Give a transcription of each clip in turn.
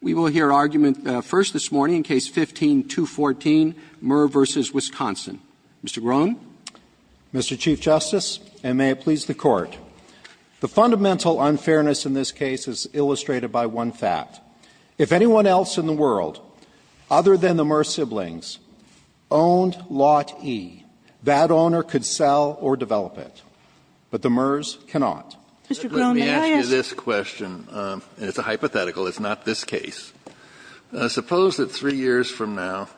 We will hear argument first this morning in Case 15-214, Murr v. Wisconsin. Mr. Groen. Mr. Chief Justice, and may it please the Court, the fundamental unfairness in this case is illustrated by one fact. If anyone else in the world, other than the Murr siblings, owned Lot E, that owner could sell or develop it, but the Murrs cannot. Let me ask you this question. It's a hypothetical. It's not this case. Suppose that three years from now,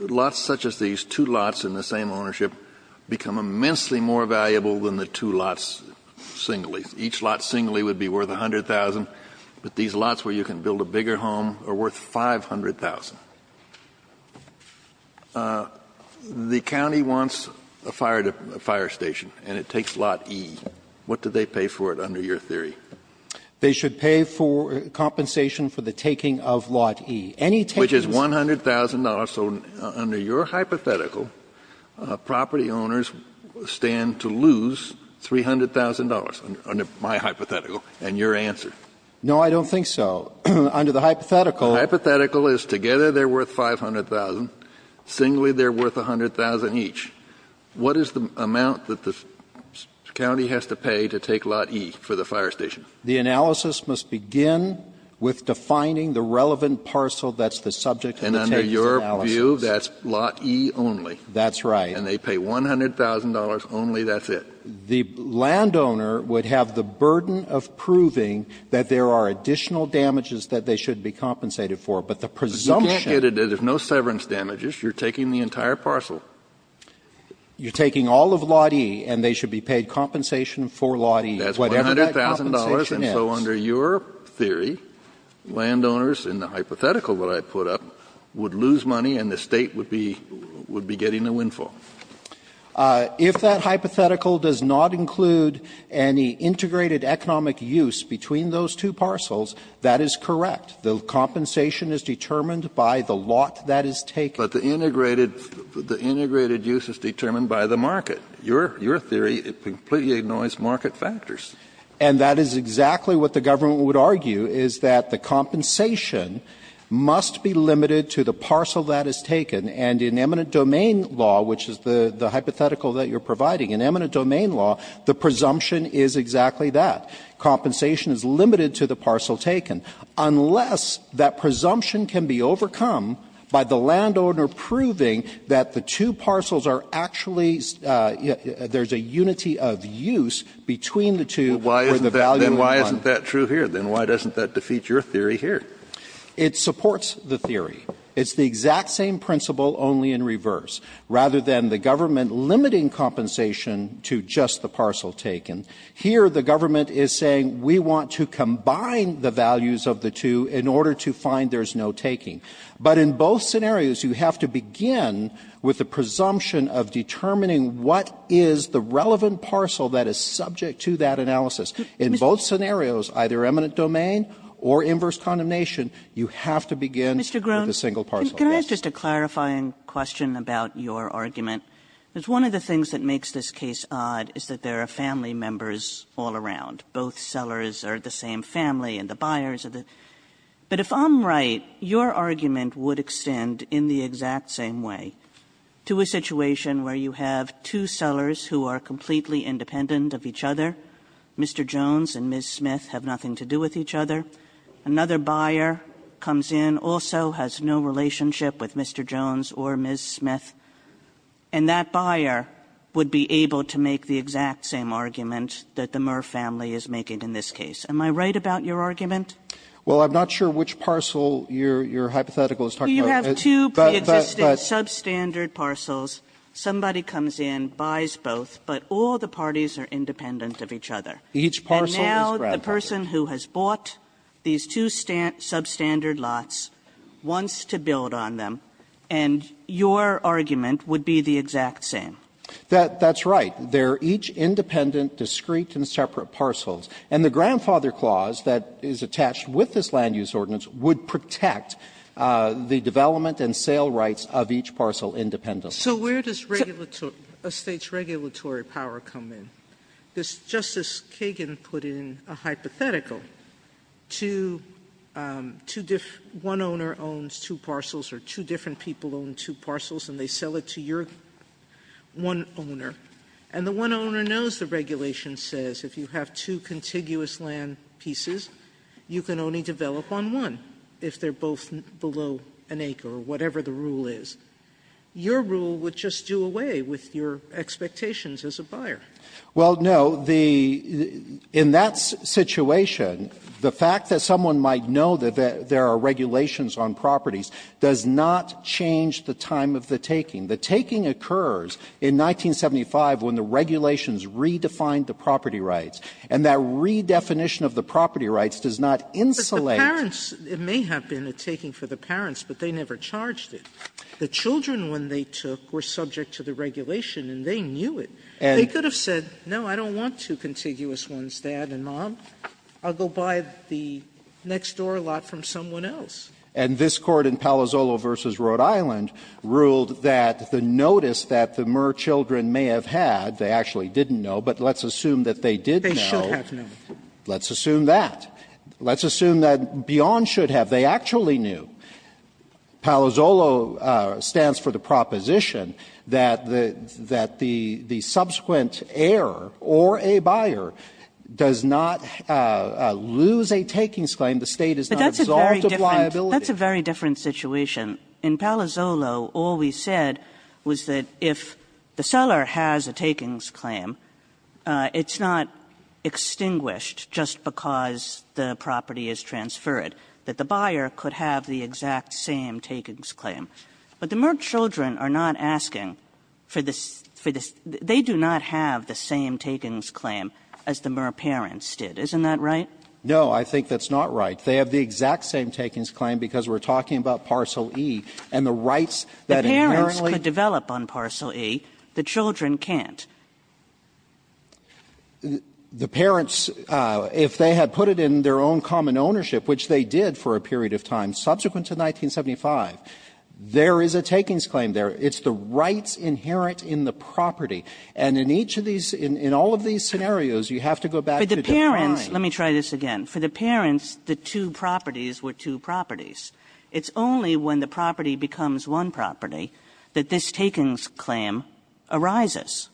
lots such as these, two lots in the same ownership, become immensely more valuable than the two lots singly. Each lot singly would be worth $100,000, but these lots where you can build a bigger home are worth $500,000. The county wants a fire station, and it takes Lot E. What do they pay for it, under your theory? They should pay compensation for the taking of Lot E. Which is $100,000, so under your hypothetical, property owners stand to lose $300,000, under my hypothetical, and your answer. No, I don't think so. Under the hypothetical... Singly, they're worth $500,000. Singly, they're worth $100,000 each. What is the amount that the county has to pay to take Lot E for the fire station? The analysis must begin with defining the relevant parcel that's the subject of the analysis. And under your view, that's Lot E only. That's right. And they pay $100,000 only, that's it. The landowner would have the burden of proving that there are additional damages that they should be compensated for. But the presumption... You can't get it. There's no severance damages. You're taking the entire parcel. You're taking all of Lot E, and they should be paid compensation for Lot E. That's $100,000, and so under your theory, landowners, in the hypothetical that I put up, would lose money, and the state would be getting the windfall. If that hypothetical does not include any integrated economic use between those two parcels, that is correct. The compensation is determined by the lot that is taken. But the integrated use is determined by the market. Your theory completely ignores market factors. And that is exactly what the government would argue, is that the compensation must be limited to the parcel that is taken. And in eminent domain law, which is the hypothetical that you're providing, in eminent domain law, the presumption is exactly that. Compensation is limited to the parcel taken. Unless that presumption can be overcome by the landowner proving that the two parcels are actually... There's a unity of use between the two... Then why isn't that true here? Then why doesn't that defeat your theory here? It supports the theory. It's the exact same principle, only in reverse, rather than the government limiting compensation to just the parcel taken. Here, the government is saying, we want to combine the values of the two in order to find there's no taking. But in both scenarios, you have to begin with the presumption of determining what is the relevant parcel that is subject to that analysis. In both scenarios, either eminent domain or inverse condemnation, you have to begin with a single parcel. Mr. Groen, can I ask just a clarifying question about your argument? Because one of the things that makes this case odd is that there are family members all around. Both sellers are the same family, and the buyers are the... But if I'm right, your argument would extend in the exact same way to a situation where you have two sellers who are completely independent of each other. Mr. Jones and Ms. Smith have nothing to do with each other. Another buyer comes in, also has no relationship with Mr. Jones or Ms. Smith. And that buyer would be able to make the exact same argument that the Murr family is making in this case. Am I right about your argument? Well, I'm not sure which parcel your hypothetical is talking about. So you have two pre-existing substandard parcels. Somebody comes in, buys both, but all the parties are independent of each other. And now the person who has bought these two substandard lots wants to build on them, and your argument would be the exact same. That's right. They're each independent, discrete, and separate parcels. And the grandfather clause that is attached with this land use ordinance would protect the development and sale rights of each parcel independently. So where does a state's regulatory power come in? Justice Kagan put in a hypothetical. One owner owns two parcels, or two different people own two parcels, and they sell it to your one owner. And the one owner knows the regulation says if you have two contiguous land pieces, you can only develop on one if they're both below an acre or whatever the rule is. Your rule would just do away with your expectations as a buyer. Well, no. In that situation, the fact that someone might know that there are regulations on properties does not change the time of the taking. The taking occurs in 1975 when the regulations redefined the property rights, and that redefinition of the property rights does not insulate... But the parents, it may have been a taking for the parents, but they never charged it. The children, when they took, were subject to the regulation, and they knew it. They could have said, no, I don't want two contiguous ones, Dad and Mom. I'll go buy the next door lot from someone else. And this court in Palazzolo v. Rhode Island ruled that the notice that the Murr children may have had, they actually didn't know, but let's assume that they did know. They should have known. Let's assume that. Let's assume that Beyond should have. They actually knew. Palazzolo stands for the proposition that the subsequent heir or a buyer does not lose a takings claim. The state is not absolved of liability. That's a very different situation. In Palazzolo, all we said was that if the seller has a takings claim, it's not extinguished just because the property is transferred, that the buyer could have the exact same takings claim. But the Murr children are not asking for this. They do not have the same takings claim as the Murr parents did. Isn't that right? No, I think that's not right. They have the exact same takings claim because we're talking about Parcel E and the rights that inherently develop on Parcel E. The children can't. The parents, if they had put it in their own common ownership, which they did for a period of time subsequent to 1975, there is a takings claim there. It's the rights inherent in the property. And in each of these, in all of these scenarios, you have to go back to the parent. Let me try this again. For the parents, the two properties were two properties. It's only when the property becomes one property that this takings claim arises.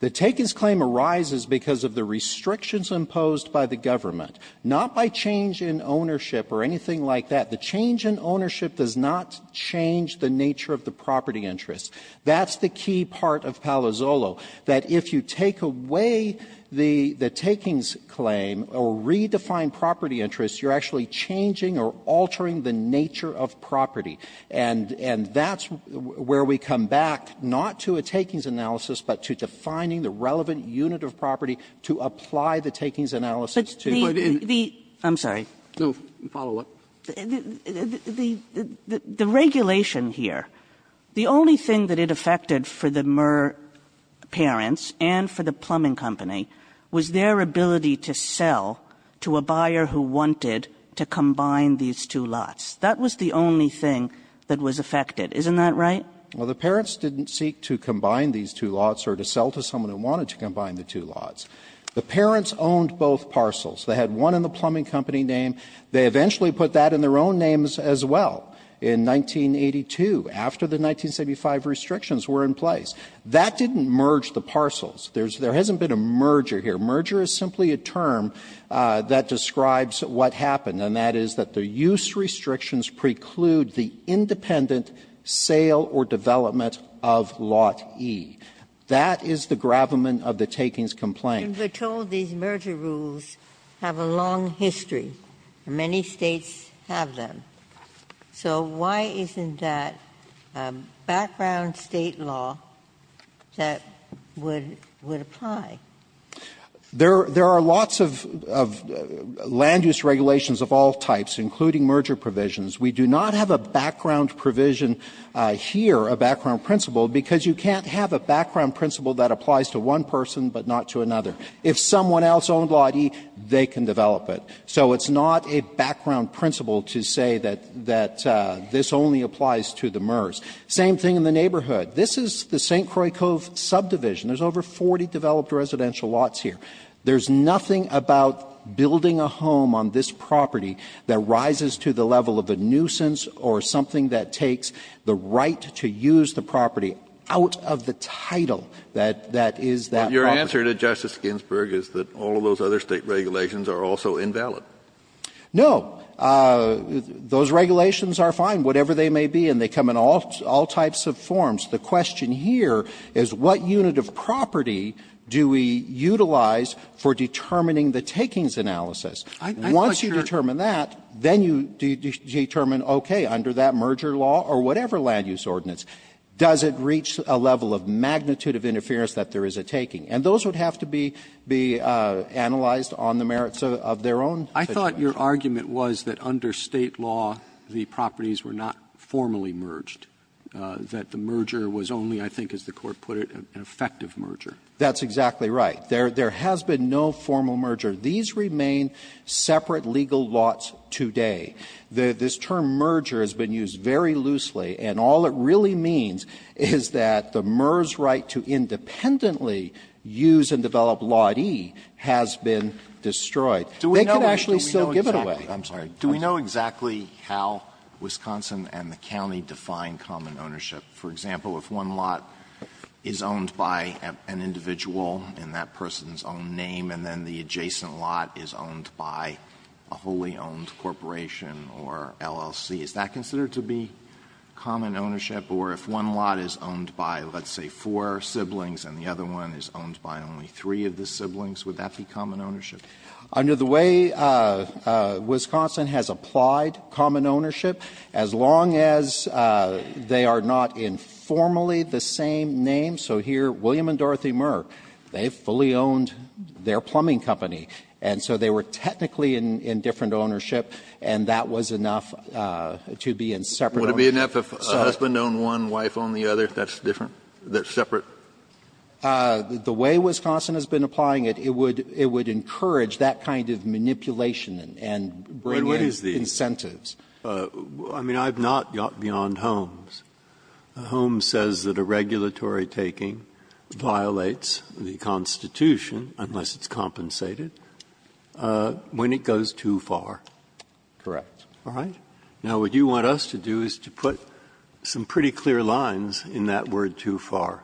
The takings claim arises because of the restrictions imposed by the government, not by change in ownership or anything like that. The change in ownership does not change the nature of the property interest. That's the key part of Palazzolo, that if you take away the takings claim or redefine property interest, you're actually changing or altering the nature of property. And that's where we come back, not to a takings analysis, but to defining the relevant unit of property to apply the takings analysis. I'm sorry. No, follow up. The regulation here, the only thing that it affected for the Murr parents and for the plumbing company was their ability to sell to a buyer who wanted to combine these two lots. That was the only thing that was affected. Isn't that right? Well, the parents didn't seek to combine these two lots or to sell to someone who wanted to combine the two lots. The parents owned both parcels. They had one in the plumbing company name. They eventually put that in their own names as well in 1982, after the 1975 restrictions were in place. That didn't merge the parcels. There hasn't been a merger here. Merger is simply a term that describes what happened, and that is that the use restrictions preclude the independent sale or development of lot E. That is the gravamen of the takings complaint. These merger rules have a long history. Many states have them. Why isn't that background state law that would apply? There are lots of land use regulations of all types, including merger provisions. We do not have a background provision here, a background principle, because you can't have a background principle that applies to one person but not to another. If someone else owned lot E, they can develop it. It's not a background principle to say that this only applies to the MERS. Same thing in the neighborhood. This is the St. Croix Cove subdivision. There's over 40 developed residential lots here. There's nothing about building a home on this property that rises to the level of a nuisance or something that takes the right to use the property out of the title that is that property. The answer to Justice Ginsburg is that all of those other state regulations are also invalid. No. Those regulations are fine, whatever they may be, and they come in all types of forms. The question here is what unit of property do we utilize for determining the takings analysis? Once you determine that, then you determine, okay, under that merger law or whatever land use ordinance, does it reach a level of magnitude of interference that there is a taking? And those would have to be analyzed on the merits of their own. I thought your argument was that under state law, the properties were not formally merged, that the merger was only, I think as the court put it, an effective merger. That's exactly right. There has been no formal merger. These remain separate legal lots today. This term merger has been used very loosely, and all it really means is that the merge right to independently use and develop lot E has been destroyed. They could actually still give it away. I'm sorry. Do we know exactly how Wisconsin and the county define common ownership? For example, if one lot is owned by an individual in that person's own name and then the adjacent lot is owned by a wholly owned corporation or LLC, is that considered to be common ownership? Or if one lot is owned by, let's say, four siblings and the other one is owned by only three of the siblings, would that be common ownership? Under the way Wisconsin has applied common ownership, as long as they are not in formally the same name, so here, William and Dorothy Merck, they fully owned their plumbing company. And so they were technically in different ownership, and that was enough to be in separate ownership. Would it be enough if a husband owned one, wife owned the other? That's separate? The way Wisconsin has been applying it, it would encourage that kind of manipulation and bring in incentives. I mean, I've not gone beyond Holmes. Holmes says that a regulatory taking violates the Constitution, unless it's compensated, when it goes too far. Correct. All right. Now, what you want us to do is to put some pretty clear lines in that word too far.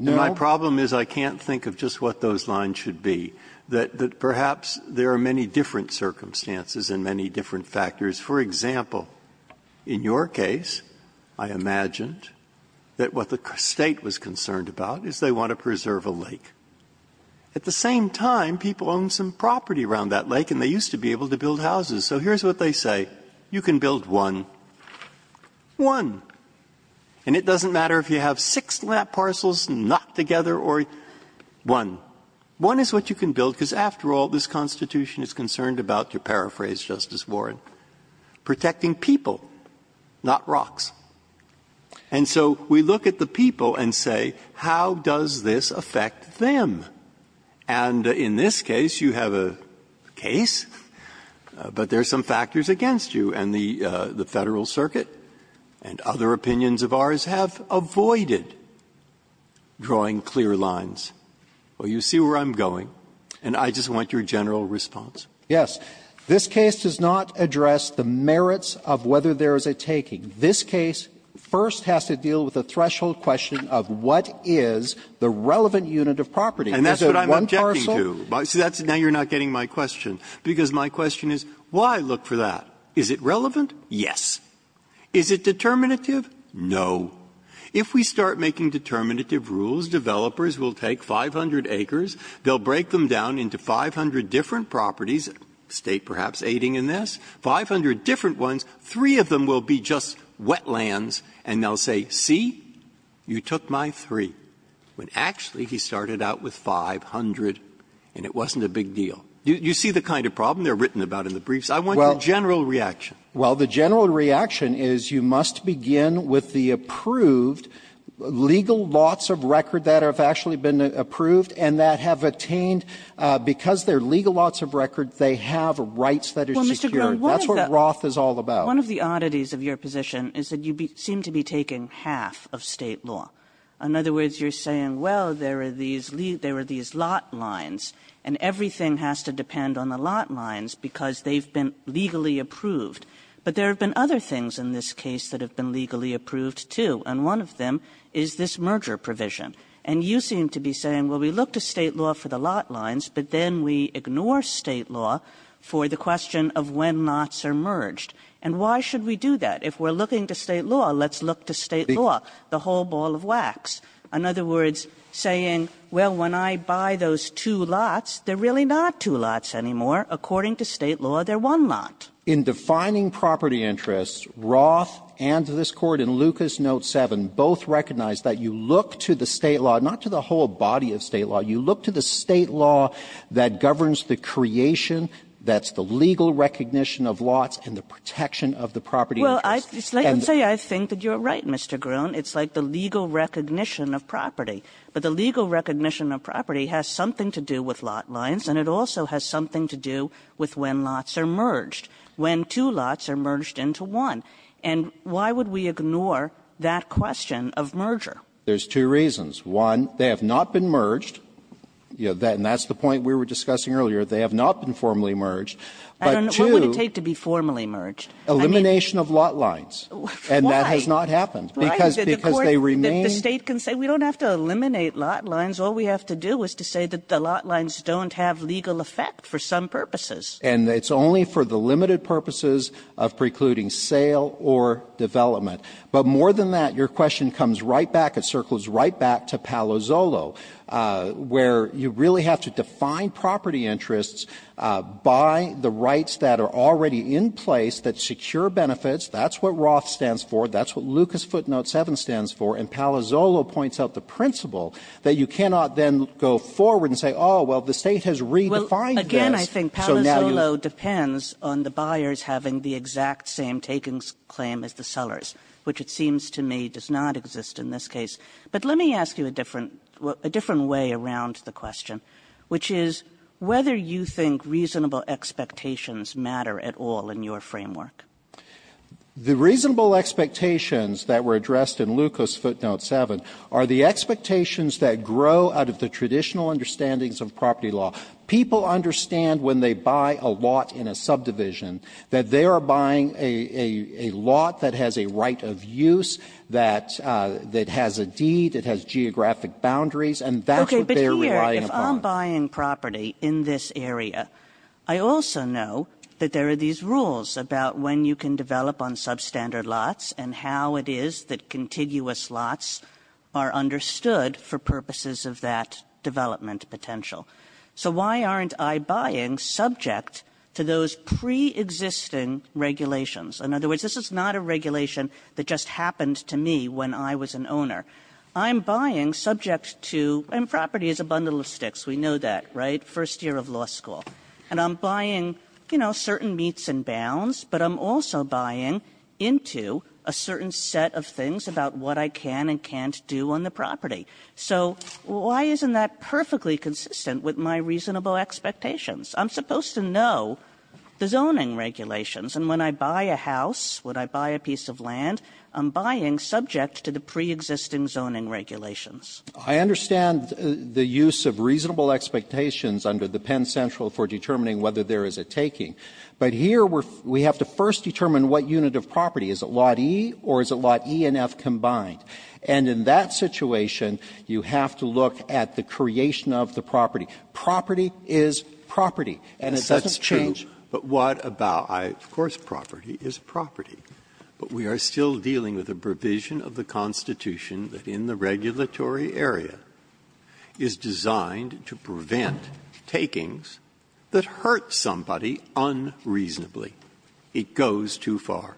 My problem is I can't think of just what those lines should be, that perhaps there are many different circumstances and many different factors. For example, in your case, I imagined that what the state was concerned about is they want to preserve a lake. At the same time, people own some property around that lake, and they used to be able to build houses. So here's what they say. You can build one. One. And it doesn't matter if you have six lap parcels not together or one. One is what you can build, because after all, this Constitution is concerned about, to paraphrase Justice Warren, protecting people, not rocks. And so we look at the people and say, how does this affect them? And in this case, you have a case, but there are some factors against you. And the Federal Circuit and other opinions of ours have avoided drawing clear lines. Well, you see where I'm going, and I just want your general response. Yes. This case does not address the merits of whether there is a taking. This case first has to deal with the threshold question of what is the relevant unit of property. And that's what I'm objecting to. Now you're not getting my question, because my question is, well, I look for that. Is it relevant? Yes. Is it determinative? No. If we start making determinative rules, developers will take 500 acres. They'll break them down into 500 different properties, state perhaps aiding in this, 500 different ones. Three of them will be just wetlands, and they'll say, see, you took my three. When actually he started out with 500, and it wasn't a big deal. You see the kind of problem they're written about in the briefs? I want your general reaction. Well, the general reaction is you must begin with the approved legal lots of record that have actually been approved and that have attained, because they're legal lots of record, they have rights that are secured. That's what Roth is all about. One of the oddities of your position is that you seem to be taking half of state law. In other words, you're saying, well, there are these lot lines, and everything has to depend on the lot lines, because they've been legally approved. But there have been other things in this case that have been legally approved, too, and one of them is this merger provision. And you seem to be saying, well, we look to state law for the lot lines, but then we ignore state law for the question of when lots are merged. And why should we do that? If we're looking to state law, let's look to state law, the whole ball of wax. In other words, saying, well, when I buy those two lots, they're really not two lots anymore. According to state law, they're one lot. In defining property interests, Roth and this court in Lucas Note 7 both recognize that you look to the state law, that governs the creation, that's the legal recognition of lots and the protection of the property interests. Well, I can say I think that you're right, Mr. Groen. It's like the legal recognition of property. But the legal recognition of property has something to do with lot lines, and it also has something to do with when lots are merged, when two lots are merged into one. And why would we ignore that question of merger? There's two reasons. One, they have not been merged, and that's the point we were discussing earlier. They have not been formally merged. What would it take to be formally merged? Elimination of lot lines. Why? And that has not happened because they remain. The state can say we don't have to eliminate lot lines. All we have to do is to say that the lot lines don't have legal effect for some purposes. And it's only for the limited purposes of precluding sale or development. But more than that, your question comes right back. It circles right back to Palazzolo, where you really have to define property interests by the rights that are already in place that secure benefits. That's what Roth stands for. That's what Lucas footnote 7 stands for. And Palazzolo points out the principle that you cannot then go forward and say, oh, well, the state has redefined this. Again, I think Palazzolo depends on the buyers having the exact same takings claim as the sellers, which it seems to me does not exist in this case. But let me ask you a different way around the question, which is whether you think reasonable expectations matter at all in your framework. The reasonable expectations that were addressed in Lucas footnote 7 are the expectations that grow out of the traditional understandings of property law. People understand when they buy a lot in a subdivision that they are buying a lot that has a right of use, that has a deed, it has geographic boundaries, and that's what they're buying from. Okay, but here, if I'm buying property in this area, I also know that there are these rules about when you can develop on substandard lots and how it is that contiguous lots are understood for purposes of that development potential. So why aren't I buying subject to those preexisting regulations? In other words, this is not a regulation that just happened to me when I was an owner. I'm buying subject to, and property is a bundle of sticks, we know that, right, first year of law school. And I'm buying, you know, certain meets and bounds, but I'm also buying into a certain set of things about what I can and can't do on the property. So why isn't that perfectly consistent with my reasonable expectations? I'm supposed to know the zoning regulations, and when I buy a house, when I buy a piece of land, I'm buying subject to the preexisting zoning regulations. I understand the use of reasonable expectations under the Penn Central for determining whether there is a taking, but here we have to first determine what unit of property. Is it lot E or is it lot E and F combined? And in that situation, you have to look at the creation of the property. Property is property, and it doesn't change. That's true, but what about, of course, property is property, but we are still dealing with a provision of the Constitution that in the regulatory area is designed to prevent takings that hurt somebody unreasonably. It goes too far.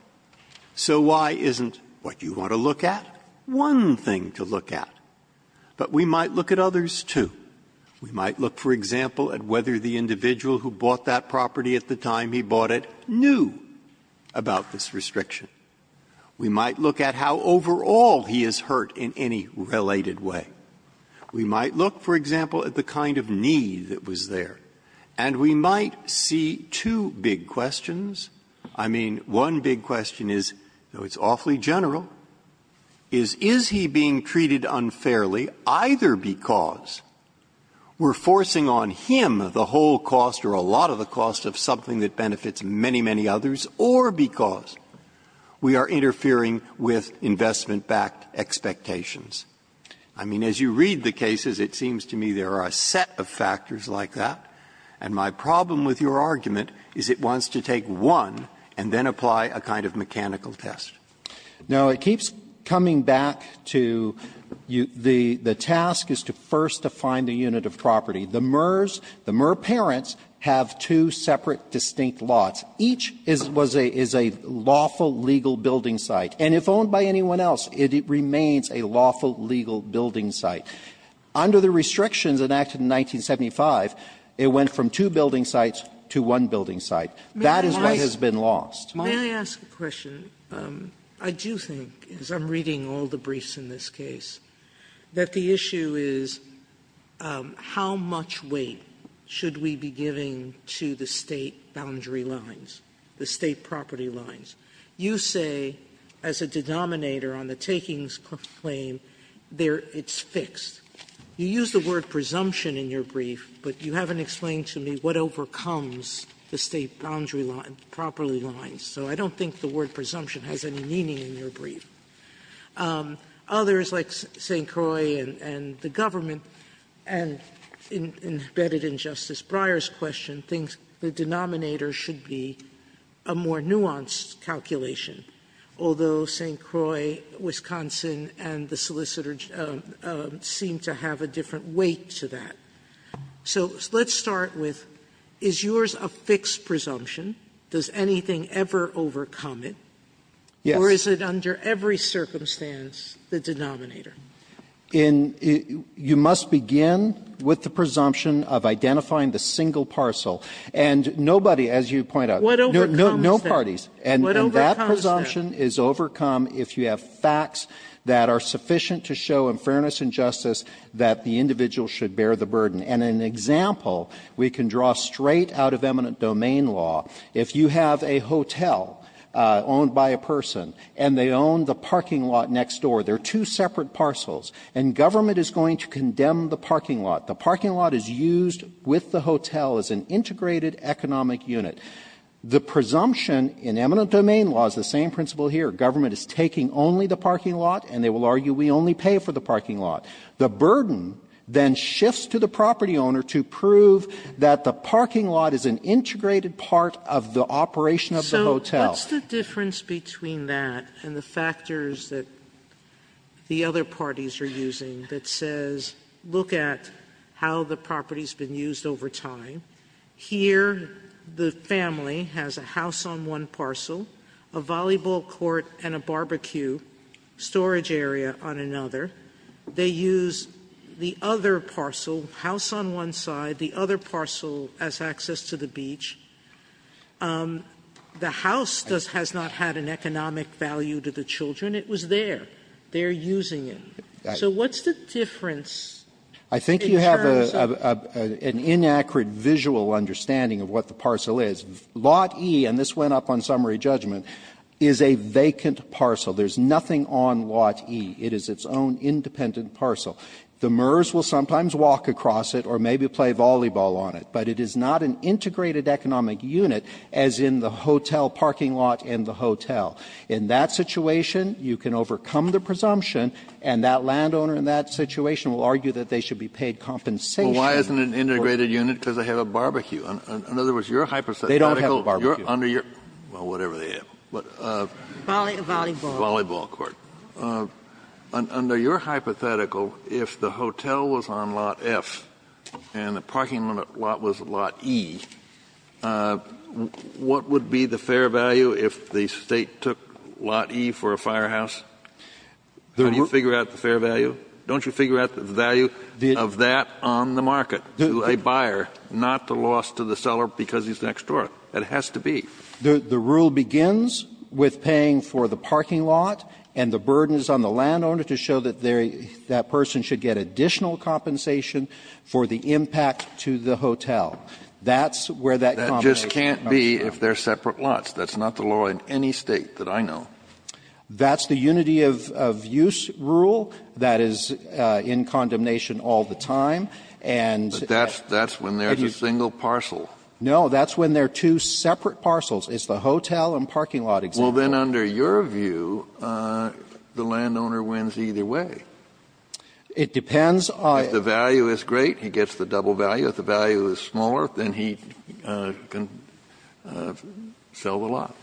So why isn't what you want to look at one thing to look at? But we might look at others, too. We might look, for example, at whether the individual who bought that property at the time he bought it knew about this restriction. We might look at how overall he is hurt in any related way. We might look, for example, at the kind of need that was there, and we might see two big questions. I mean, one big question is, though it's awfully general, is is he being treated unfairly either because we're forcing on him the whole cost or a lot of the cost of something that benefits many, many others, or because we are interfering with investment-backed expectations? I mean, as you read the cases, it seems to me there are a set of factors like that, and my problem with your argument is it wants to take one and then apply a kind of mechanical test. Now, it keeps coming back to the task is to first define the unit of property. The Murr parents have two separate distinct lots. Each is a lawful legal building site, and if owned by anyone else, it remains a lawful legal building site. Under the restrictions enacted in 1975, it went from two building sites to one building site. That is what has been lost. May I ask a question? I do think, as I'm reading all the briefs in this case, that the issue is how much weight should we be giving to the state boundary lines, the state property lines? You say, as a denominator on the takings claim, it's fixed. You use the word presumption in your brief, but you haven't explained to me what overcomes the state boundary lines properly. So I don't think the word presumption has any meaning in your brief. Others, like St. Croix and the government, and embedded in Justice Breyer's question, think the denominator should be a more nuanced calculation, although St. Croix, Wisconsin, and the solicitors seem to have a different weight to that. So let's start with, is yours a fixed presumption? Does anything ever overcome it? Or is it under every circumstance the denominator? You must begin with the presumption of identifying the single parcel. And nobody, as you point out, no parties. And that presumption is overcome if you have facts that are sufficient to show, in fairness and justice, that the individual should bear the burden. And an example we can draw straight out of eminent domain law, if you have a hotel owned by a person and they own the parking lot next door, they're two separate parcels, and government is going to condemn the parking lot. The parking lot is used with the hotel as an integrated economic unit. The presumption in eminent domain law is the same principle here. Government is taking only the parking lot, and they will argue we only pay for the parking lot. The burden then shifts to the property owner to prove that the parking lot is an integrated part of the operation of the hotel. What's the difference between that and the factors that the other parties are using that says, look at how the property has been used over time. Here the family has a house on one parcel, a volleyball court and a barbecue storage area on another. They use the other parcel, house on one side, the other parcel as access to the beach. The house has not had an economic value to the children. It was there. They're using it. So what's the difference? I think you have an inaccurate visual understanding of what the parcel is. Lot E, and this went up on summary judgment, is a vacant parcel. There's nothing on Lot E. It is its own independent parcel. The MERS will sometimes walk across it or maybe play volleyball on it, but it is not an integrated economic unit as in the hotel parking lot and the hotel. In that situation, you can overcome the presumption, and that landowner in that situation will argue that they should be paid compensation. Well, why isn't it an integrated unit because they have a barbecue? In other words, you're hypothetical. They don't have a barbecue. Well, whatever they have. Volleyball. Volleyball court. Under your hypothetical, if the hotel was on Lot F and the parking lot was Lot E, what would be the fair value if the state took Lot E for a firehouse? Can you figure out the fair value? Don't you figure out the value of that on the market to a buyer, not the loss to the seller because he's next door? It has to be. The rule begins with paying for the parking lot and the burden is on the landowner to show that that person should get additional compensation for the impact to the hotel. That's where that compensation comes from. That just can't be if they're separate lots. That's not the law in any state that I know. That's the unity of use rule that is in condemnation all the time. But that's when there's a single parcel. No, that's when there are two separate parcels. It's the hotel and parking lot example. Well, then under your view, the landowner wins either way. It depends. If the value is great, he gets the double value. If the value is smaller, then he can sell the lot.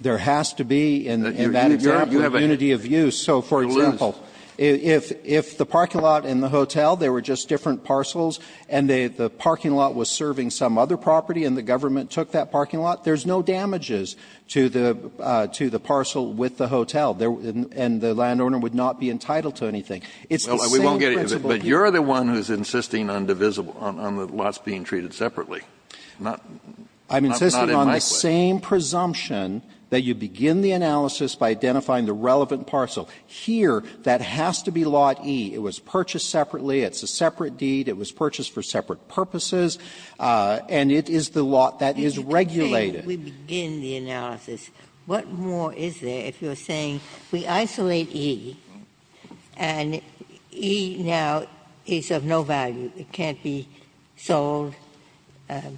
There has to be in that unity of use. So, for example, if the parking lot and the hotel, they were just different parcels and the parking lot was serving some other property and the government took that parking lot, there's no damages to the parcel with the hotel and the landowner would not be entitled to anything. But you're the one who's insisting on the lots being treated separately. I'm insisting on the same presumption that you begin the analysis by identifying the relevant parcel. Here, that has to be lot E. It was purchased separately. It's a separate deed. It was purchased for separate purposes, and it is the lot that is regulated. If we begin the analysis, what more is there if you're saying we isolate E and E now is of no value, it can't be sold, it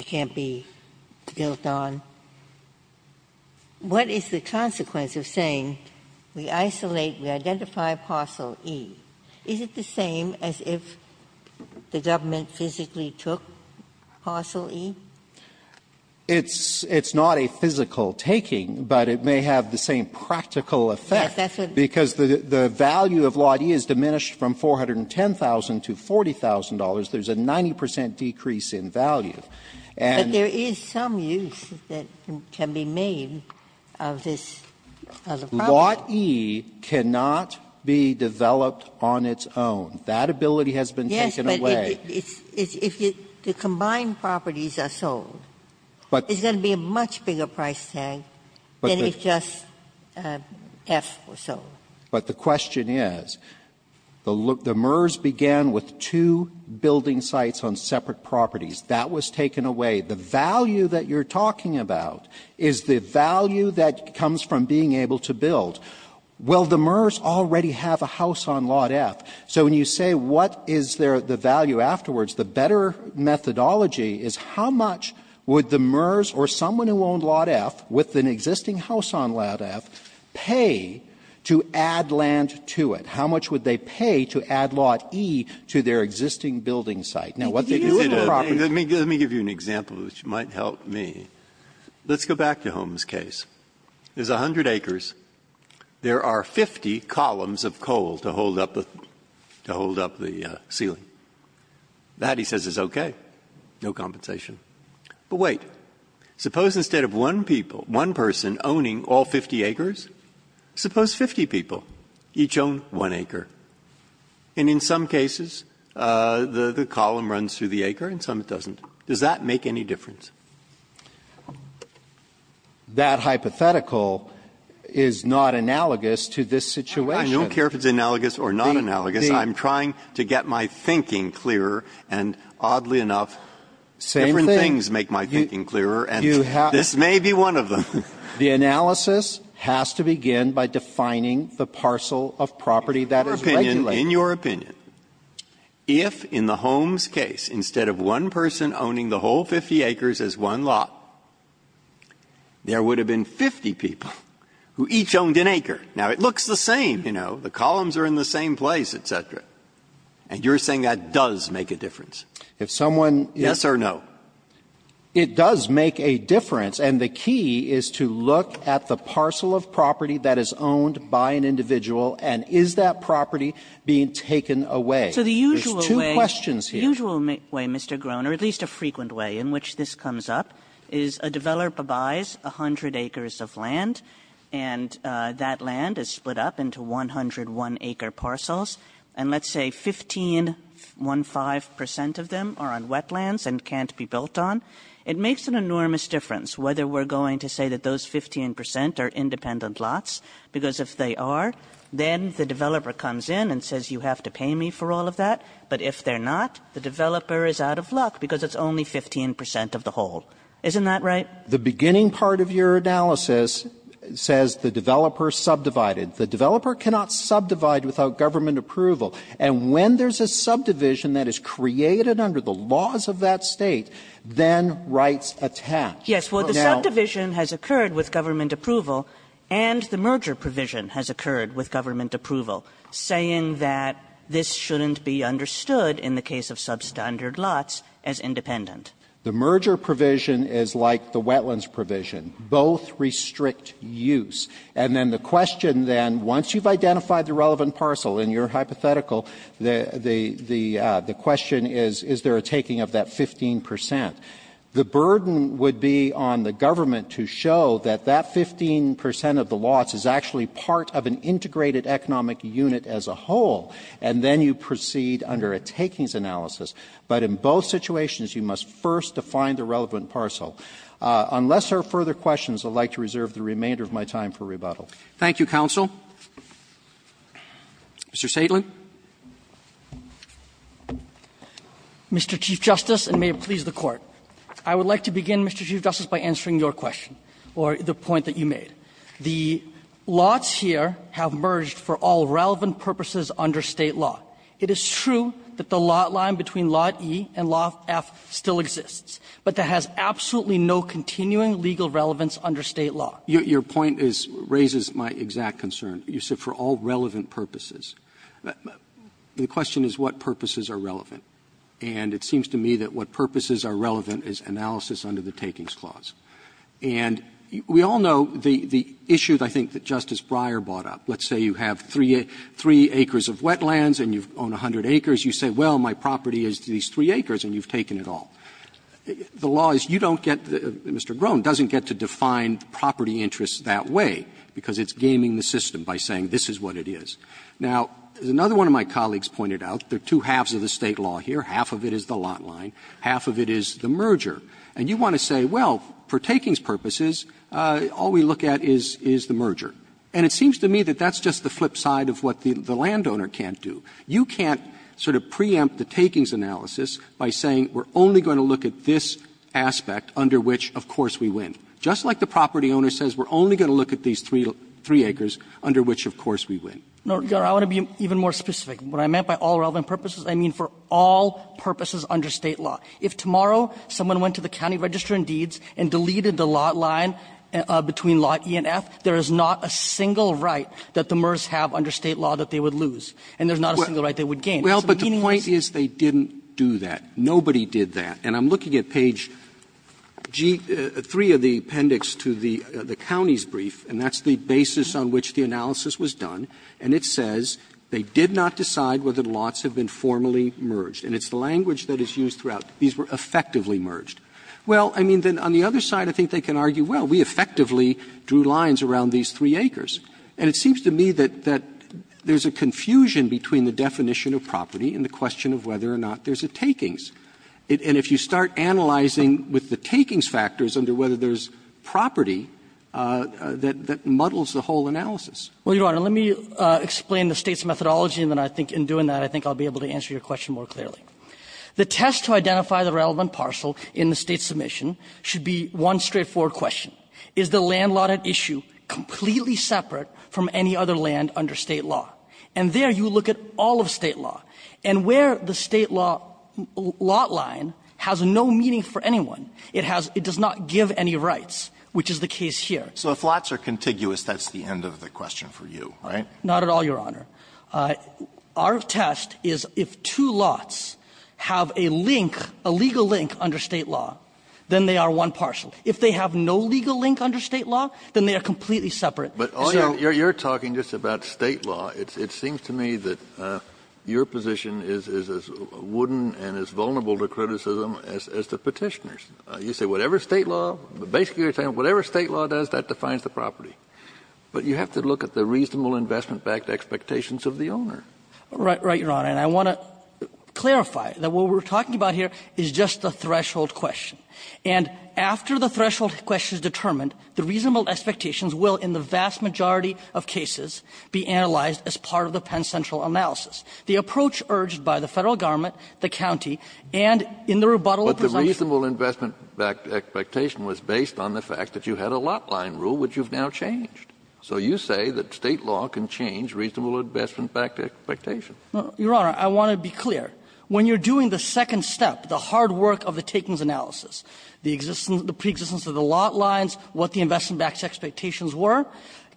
can't be built on. What is the consequence of saying we isolate and identify parcel E? Is it the same as if the government physically took parcel E? It's not a physical taking, but it may have the same practical effect because the value of lot E is diminished from $410,000 to $40,000. There's a 90% decrease in value. But there is some use that can be made of this parcel. Lot E cannot be developed on its own. That ability has been taken away. Yes, but if the combined properties are sold, it's going to be a much bigger price tag than it's just taxed for sale. But the question is, the MERS began with two building sites on separate properties. That was taken away. The value that you're talking about is the value that comes from being able to build. Will the MERS already have a house on lot F? So when you say what is the value afterwards, the better methodology is how much would the MERS or someone who owned lot F with an existing house on lot F pay to add land to it? How much would they pay to add lot E to their existing building site? Let me give you an example which might help me. Let's go back to Holmes' case. There's 100 acres. There are 50 columns of coal to hold up the ceiling. That, he says, is okay. No compensation. But wait. Suppose instead of one person owning all 50 acres, suppose 50 people each own one acre. And in some cases, the column runs through the acre and some it doesn't. Does that make any difference? That hypothetical is not analogous to this situation. I don't care if it's analogous or not analogous. I'm trying to get my thinking clearer, and oddly enough, different things make my thinking clearer, and this may be one of them. The analysis has to begin by defining the parcel of property that is legible. In your opinion, if in the Holmes' case, instead of one person owning the whole 50 acres as one lot, there would have been 50 people who each owned an acre. Now, it looks the same, you know. The columns are in the same place, et cetera. And you're saying that does make a difference. Yes or no? It does make a difference. And the key is to look at the parcel of property that is owned by an individual and is that property being taken away. There's two questions here. The usual way, Mr. Groen, or at least a frequent way in which this comes up, is a developer buys 100 acres of land, and that land is split up into 101 acre parcels. And let's say 15.15% of them are on wetlands and can't be built on. It makes an enormous difference whether we're going to say that those 15% are independent lots, because if they are, then the developer comes in and says, you have to pay me for all of that. But if they're not, the developer is out of luck because it's only 15% of the whole. Isn't that right? The beginning part of your analysis says the developer subdivided. The developer cannot subdivide without government approval. And when there's a subdivision that is created under the laws of that state, then rights attach. Yes, well, the subdivision has occurred with government approval and the merger provision has occurred with government approval, saying that this shouldn't be understood in the case of substandard lots as independent. The merger provision is like the wetlands provision. Both restrict use. And then the question then, once you've identified the relevant parcel in your hypothetical, the question is, is there a taking of that 15%? The burden would be on the government to show that that 15% of the lots is actually part of an integrated economic unit as a whole, and then you proceed under a takings analysis. But in both situations, you must first define the relevant parcel. Unless there are further questions, I'd like to reserve the remainder of my time for rebuttal. Thank you, counsel. Mr. Saitley. Mr. Chief Justice, and may it please the Court, I would like to begin, Mr. Chief Justice, by answering your question or the point that you made. The lots here have merged for all relevant purposes under state law. It is true that the lot line between Lot E and Lot F still exists, but that has absolutely no continuing legal relevance under state law. Your point raises my exact concern. You said for all relevant purposes. The question is, what purposes are relevant? And it seems to me that what purposes are relevant is analysis under the takings clause. And we all know the issues, I think, that Justice Breyer brought up. Let's say you have three acres of wetlands and you own 100 acres. You say, well, my property is these three acres, and you've taken it all. The law is you don't get, Mr. Groen, doesn't get to define property interests that way because it's gaming the system by saying this is what it is. Now, as another one of my colleagues pointed out, there are two halves of the state law here. Half of it is the lot line. Half of it is the merger. And you want to say, well, for takings purposes, all we look at is the merger. And it seems to me that that's just the flip side of what the landowner can't do. You can't sort of preempt the takings analysis by saying we're only going to look at this aspect under which, of course, we win. Just like the property owner says we're only going to look at these three acres under which, of course, we win. No, I want to be even more specific. What I meant by all relevant purposes, I mean for all purposes under state law. If tomorrow someone went to the county register and deeds and deleted the lot line between lot E and F, there is not a single right that the MERS have under state law that they would lose. And there's not a single right they would gain. Well, but the point is they didn't do that. Nobody did that. And I'm looking at page 3 of the appendix to the county's brief, and that's the basis on which the analysis was done. And it says they did not decide whether lots have been formally merged. And it's the language that is used throughout. These were effectively merged. Well, I mean, then on the other side, I think they can argue, well, we effectively drew lines around these three acres. And it seems to me that there's a confusion between the definition of property and the question of whether or not there's a takings. And if you start analyzing with the takings factors under whether there's property, that muddles the whole analysis. Well, Your Honor, let me explain the state's methodology. And then I think in doing that, I think I'll be able to answer your question more clearly. The test to identify the relevant parcel in the state submission should be one straightforward question. Is the land lot an issue completely separate from any other land under state law? And there you look at all of state law and where the state law lot line has no meaning for anyone. It has it does not give any rights, which is the case here. So if lots are contiguous, that's the end of the question for you. Not at all, Your Honor. Our test is if two lots have a link, a legal link under state law, then they are one parcel. If they have no legal link under state law, then they are completely separate. But you're talking just about state law. It seems to me that your position is as wooden and as vulnerable to criticism as the petitioners. You say whatever state law, but basically you're saying whatever state law does, that defines the property. But you have to look at the reasonable investment backed expectations of the owner. Right, Your Honor. And I want to clarify that what we're talking about here is just the threshold question. And after the threshold question is determined, the reasonable expectations will, in the vast majority of cases, be analyzed as part of the Penn Central analysis. The approach urged by the federal government, the county, and in the rebuttal... But the reasonable investment backed expectation was based on the fact that you had a lot line rule, which you've now changed. So you say that state law can change reasonable investment backed expectations. Your Honor, I want to be clear. When you're doing the second step, the hard work of the takings analysis, the pre-existence of the lot lines, what the investment backed expectations were,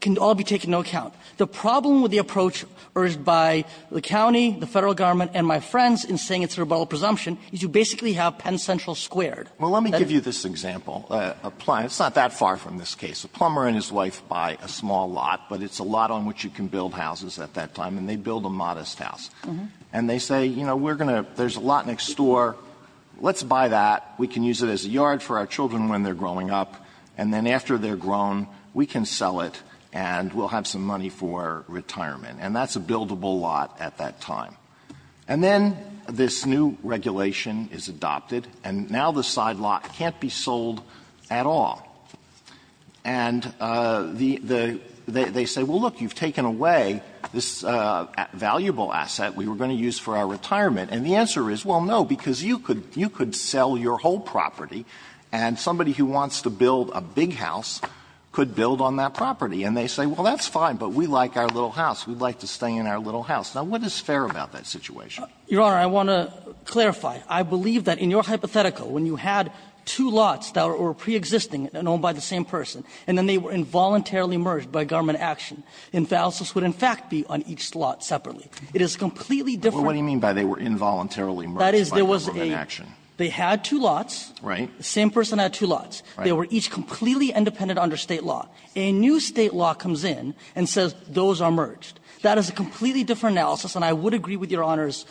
can all be taken into account. The problem with the approach urged by the county, the federal government, and my friends in saying it's a rebuttal presumption, is you basically have Penn Central squared. Well, let me give you this example. It's not that far from this case. A plumber and his wife buy a small lot, but it's a lot on which you can build houses at that time. And they build a modest house. And they say, you know, there's a lot next door. Let's buy that. We can use it as a yard for our children when they're growing up. And then after they're grown, we can sell it and we'll have some money for retirement. And that's a buildable lot at that time. And then this new regulation is adopted, and now the side lot can't be sold at all. And they say, well, look, you've taken away this valuable asset we were going to use for our retirement. And the answer is, well, no, because you could sell your whole property, and somebody who wants to build a big house could build on that property. And they say, well, that's fine, but we like our little house. We'd like to stay in our little house. Now, what is fair about that situation? Your Honor, I want to clarify. I believe that in your hypothetical, when you had two lots that were preexisting and owned by the same person, and then they were involuntarily merged by government action, and the houses would in fact be on each lot separately. It is completely different. What do you mean by they were involuntarily merged by government action? They had two lots. The same person had two lots. They were each completely independent under state law. A new state law comes in and says those are merged. That is a completely different analysis, and I would agree with your Honor's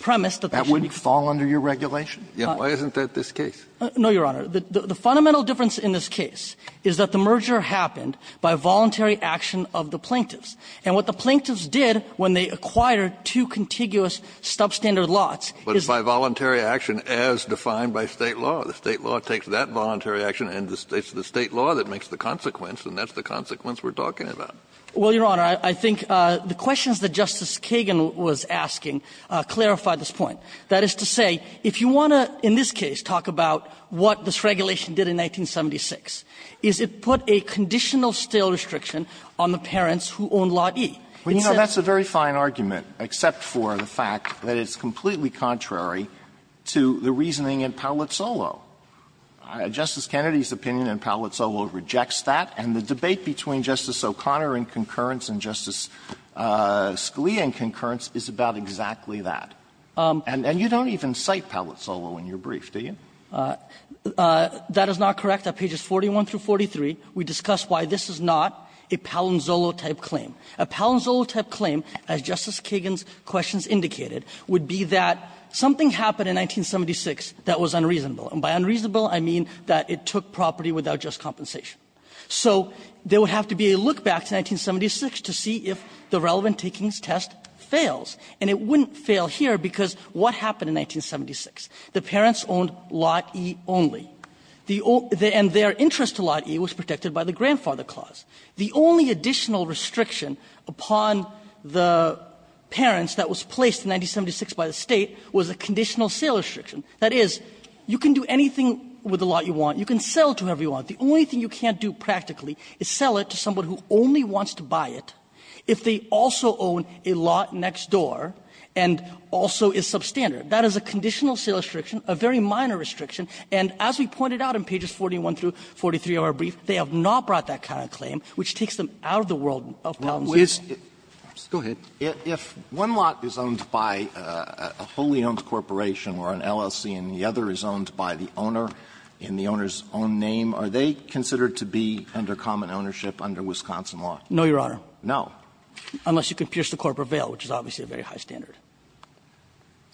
premise. That wouldn't fall under your regulation? Why isn't that this case? No, Your Honor. The fundamental difference in this case is that the merger happened by voluntary action of the plaintiffs. And what the plaintiffs did when they acquired two contiguous substandard lots is... But it's by voluntary action as defined by state law. The state law takes that voluntary action, and it's the state law that makes the consequence, and that's the consequence we're talking about. Well, Your Honor, I think the questions that Justice Kagan was asking clarify this point. That is to say, if you want to, in this case, talk about what this regulation did in 1976, is it put a conditional stale restriction on the parents who own lot E. Well, you know, that's a very fine argument, except for the fact that it's completely contrary to the reasoning in Palazzolo. Justice Kennedy's opinion in Palazzolo rejects that, and the debate between Justice O'Connor in concurrence and Justice Scalia in concurrence is about exactly that. And you don't even cite Palazzolo in your brief, do you? That is not correct. On pages 41 through 43, we discuss why this is not a Palazzolo-type claim. A Palazzolo-type claim, as Justice Kagan's questions indicated, would be that something happened in 1976 that was unreasonable. And by unreasonable, I mean that it took property without just compensation. So there would have to be a look back to 1976 to see if the relevant takings test fails, and it wouldn't fail here because what happened in 1976? The parents owned lot E only, and their interest to lot E was protected by the grandfather clause. The only additional restriction upon the parents that was placed in 1976 by the state was a conditional sale restriction. That is, you can do anything with the lot you want. You can sell it to whoever you want. The only thing you can't do practically is sell it to someone who only wants to buy it if they also own a lot next door and also is substandard. That is a conditional sale restriction, a very minor restriction. And as we pointed out in pages 41 through 43 of our brief, they have not brought that kind of claim, which takes them out of the world of problems. Go ahead. If one lot is owned by a wholly owned corporation or an LLC and the other is owned by the owner in the owner's own name, are they considered to be under common ownership under Wisconsin law? No, Your Honor. No. Unless you can pierce the corporate veil, which is obviously a very high standard.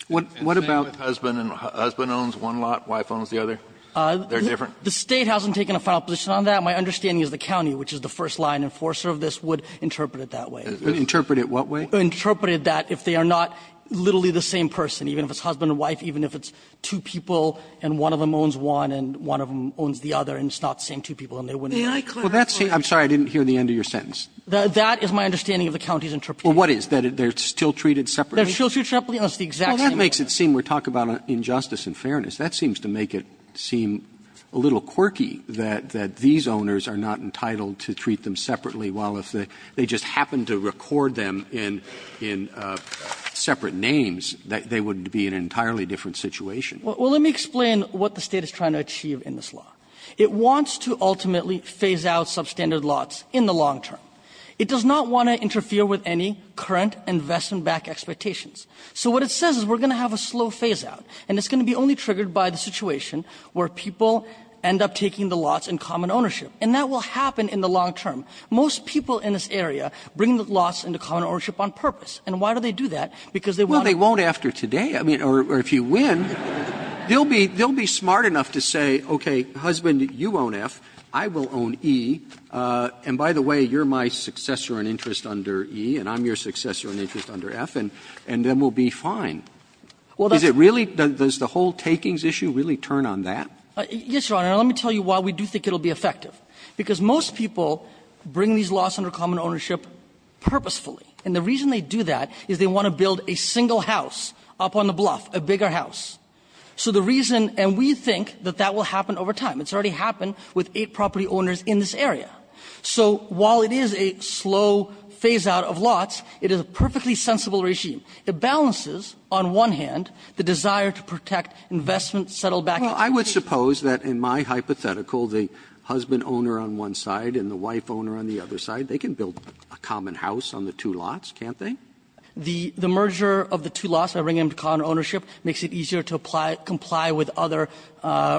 What about husband owns one lot, wife owns the other? They're different? The state hasn't taken a file position on that. My understanding is the county, which is the first line enforcer of this, would interpret it that way. Interpret it what way? Interpret it that if they are not literally the same person, even if it's husband and wife, even if it's two people and one of them owns one and one of them owns the other and it's not the same two people. May I clarify? I'm sorry, I didn't hear the end of your sentence. That is my understanding of the county's interpretation. Well, what is? That they're still treated separately? They're still treated separately. That's the exact same thing. Well, that makes it seem we're talking about injustice and fairness. That seems to make it seem a little quirky that these owners are not entitled to treat them separately while if they just happen to record them in separate names, they would be in an entirely different situation. Well, let me explain what the state is trying to achieve in this law. It wants to ultimately phase out substandard lots in the long term. It does not want to interfere with any current investment back expectations. So what it says is we're going to have a slow phase out, and it's going to be only triggered by the situation where people end up taking the lots in common ownership, and that will happen in the long term. Most people in this area bring the lots into common ownership on purpose, and why do they do that? Well, they won't after today, I mean, or if you win, they'll be smart enough to say, okay, husband, you own F, I will own E, and by the way, you're my successor in interest under E, and I'm your successor in interest under F, and then we'll be fine. Does the whole takings issue really turn on that? Yes, Your Honor, and let me tell you why we do think it will be effective. Because most people bring these lots into common ownership purposefully, and the reason they do that is they want to build a single house up on the bluff, a bigger house. So the reason, and we think that that will happen over time. It's already happened with eight property owners in this area. So while it is a slow phase out of lots, it is a perfectly sensible regime. It balances, on one hand, the desire to protect investment, settle back. Well, I would suppose that in my hypothetical, the husband owner on one side and the wife owner on the other side, they can build a common house on the two lots, can't they? The merger of the two lots that bring them to common ownership makes it easier to comply with other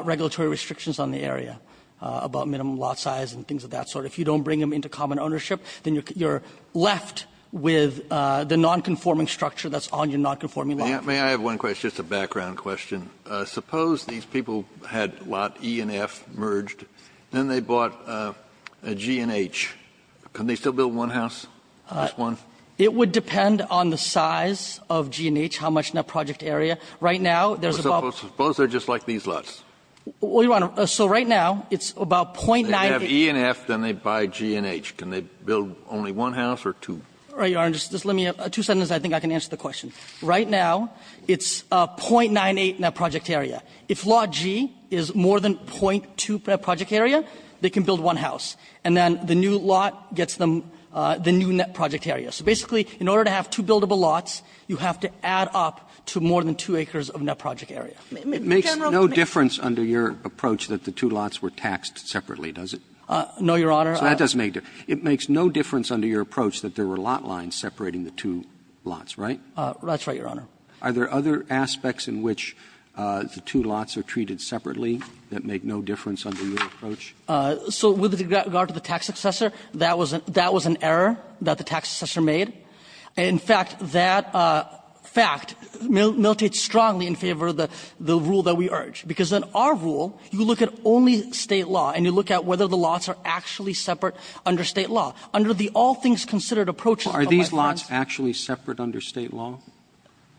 regulatory restrictions on the area about minimum lot size and things of that sort. If you don't bring them into common ownership, then you're left with the nonconforming structure that's on your nonconforming lot. May I have one question, just a background question? Suppose these people had lot E and F merged, then they bought a G and H. Can they still build one house, just one? It would depend on the size of G and H, how much net project area. Suppose they're just like these lots. Well, Your Honor, so right now, it's about 0.98. They have E and F, then they buy G and H. Can they build only one house or two? All right, Your Honor, just let me, two sentences, I think I can answer the question. Right now, it's 0.98 net project area. If lot G is more than 0.2 per project area, they can build one house. And then the new lot gets them the new net project area. So basically, in order to have two buildable lots, you have to add up to more than two acres of net project area. It makes no difference under your approach that the two lots were taxed separately, does it? No, Your Honor. So that doesn't make a difference. It makes no difference under your approach that there were lot lines separating the two lots, right? That's right, Your Honor. Are there other aspects in which the two lots are treated separately that make no difference under your approach? So with regard to the tax assessor, that was an error that the tax assessor made. In fact, that fact militates strongly in favor of the rule that we urge. Because in our rule, you look at only state law, and you look at whether the lots are actually separate under state law. Under the all things considered approach, Are these lots actually separate under state law?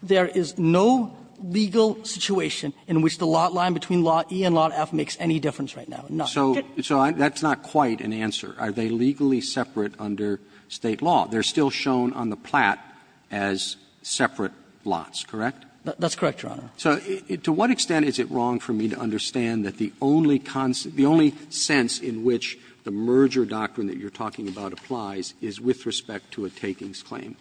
There is no legal situation in which the lot line between lot E and lot F makes any difference right now. So that's not quite an answer. Are they legally separate under state law? They're still shown on the plat as separate lots, correct? That's correct, Your Honor. So to what extent is it wrong for me to understand that the only sense in which the merger doctrine that you're talking about applies is with respect to a takings claim?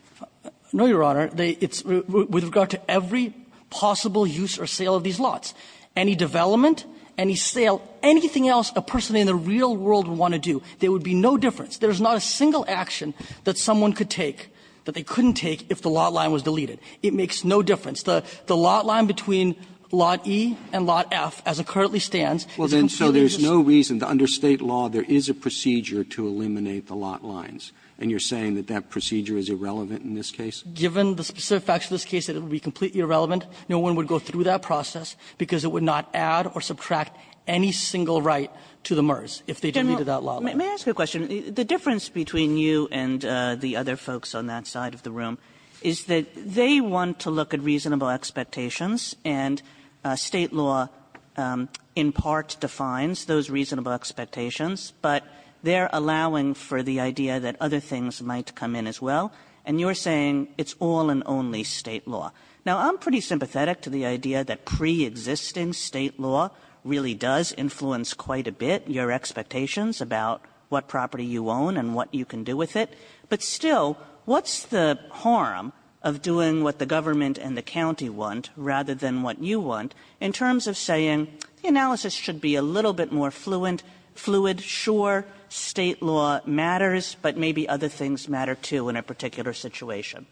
No, Your Honor. With regard to every possible use or sale of these lots, any development, any sale, anything else a person in the real world would want to do, there would be no difference. There's not a single action that someone could take, that they couldn't take if the lot line was deleted. It makes no difference. The lot line between lot E and lot F, as it currently stands, Well then, so there's no reason to under state law, there is a procedure to eliminate the lot lines. And you're saying that that procedure is irrelevant in this case? Given the specific facts of this case, it would be completely irrelevant. No one would go through that process because it would not add or subtract any single right to the merge if they deleted that lot line. May I ask you a question? The difference between you and the other folks on that side of the room is that they want to look at reasonable expectations, and state law in part defines those reasonable expectations, but they're allowing for the idea that other things might come in as well, and you're saying it's all and only state law. Now, I'm pretty sympathetic to the idea that preexisting state law really does influence quite a bit your expectations about what property you own and what you can do with it. But still, what's the harm of doing what the government and the county want rather than what you want in terms of saying analysis should be a little bit more fluid? Sure, state law matters, but maybe other things matter too in a particular situation.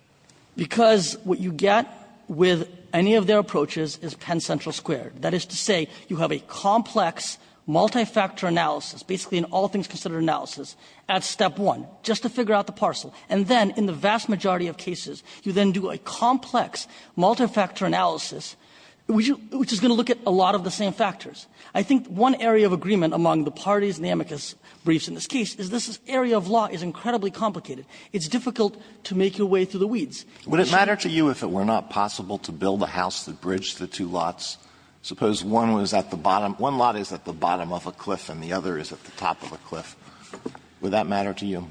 Because what you get with any of their approaches is Penn Central squared. That is to say you have a complex multi-factor analysis, basically an all-things-considered analysis at step one, just to figure out the parcel. And then in the vast majority of cases, you then do a complex multi-factor analysis, which is going to look at a lot of the same factors. I think one area of agreement among the parties and the amicus briefs in this case is this area of law is incredibly complicated. It's difficult to make your way through the weeds. Would it matter to you if it were not possible to build a house that bridged the two lots? Suppose one lot is at the bottom of a cliff and the other is at the top of a cliff. Would that matter to you?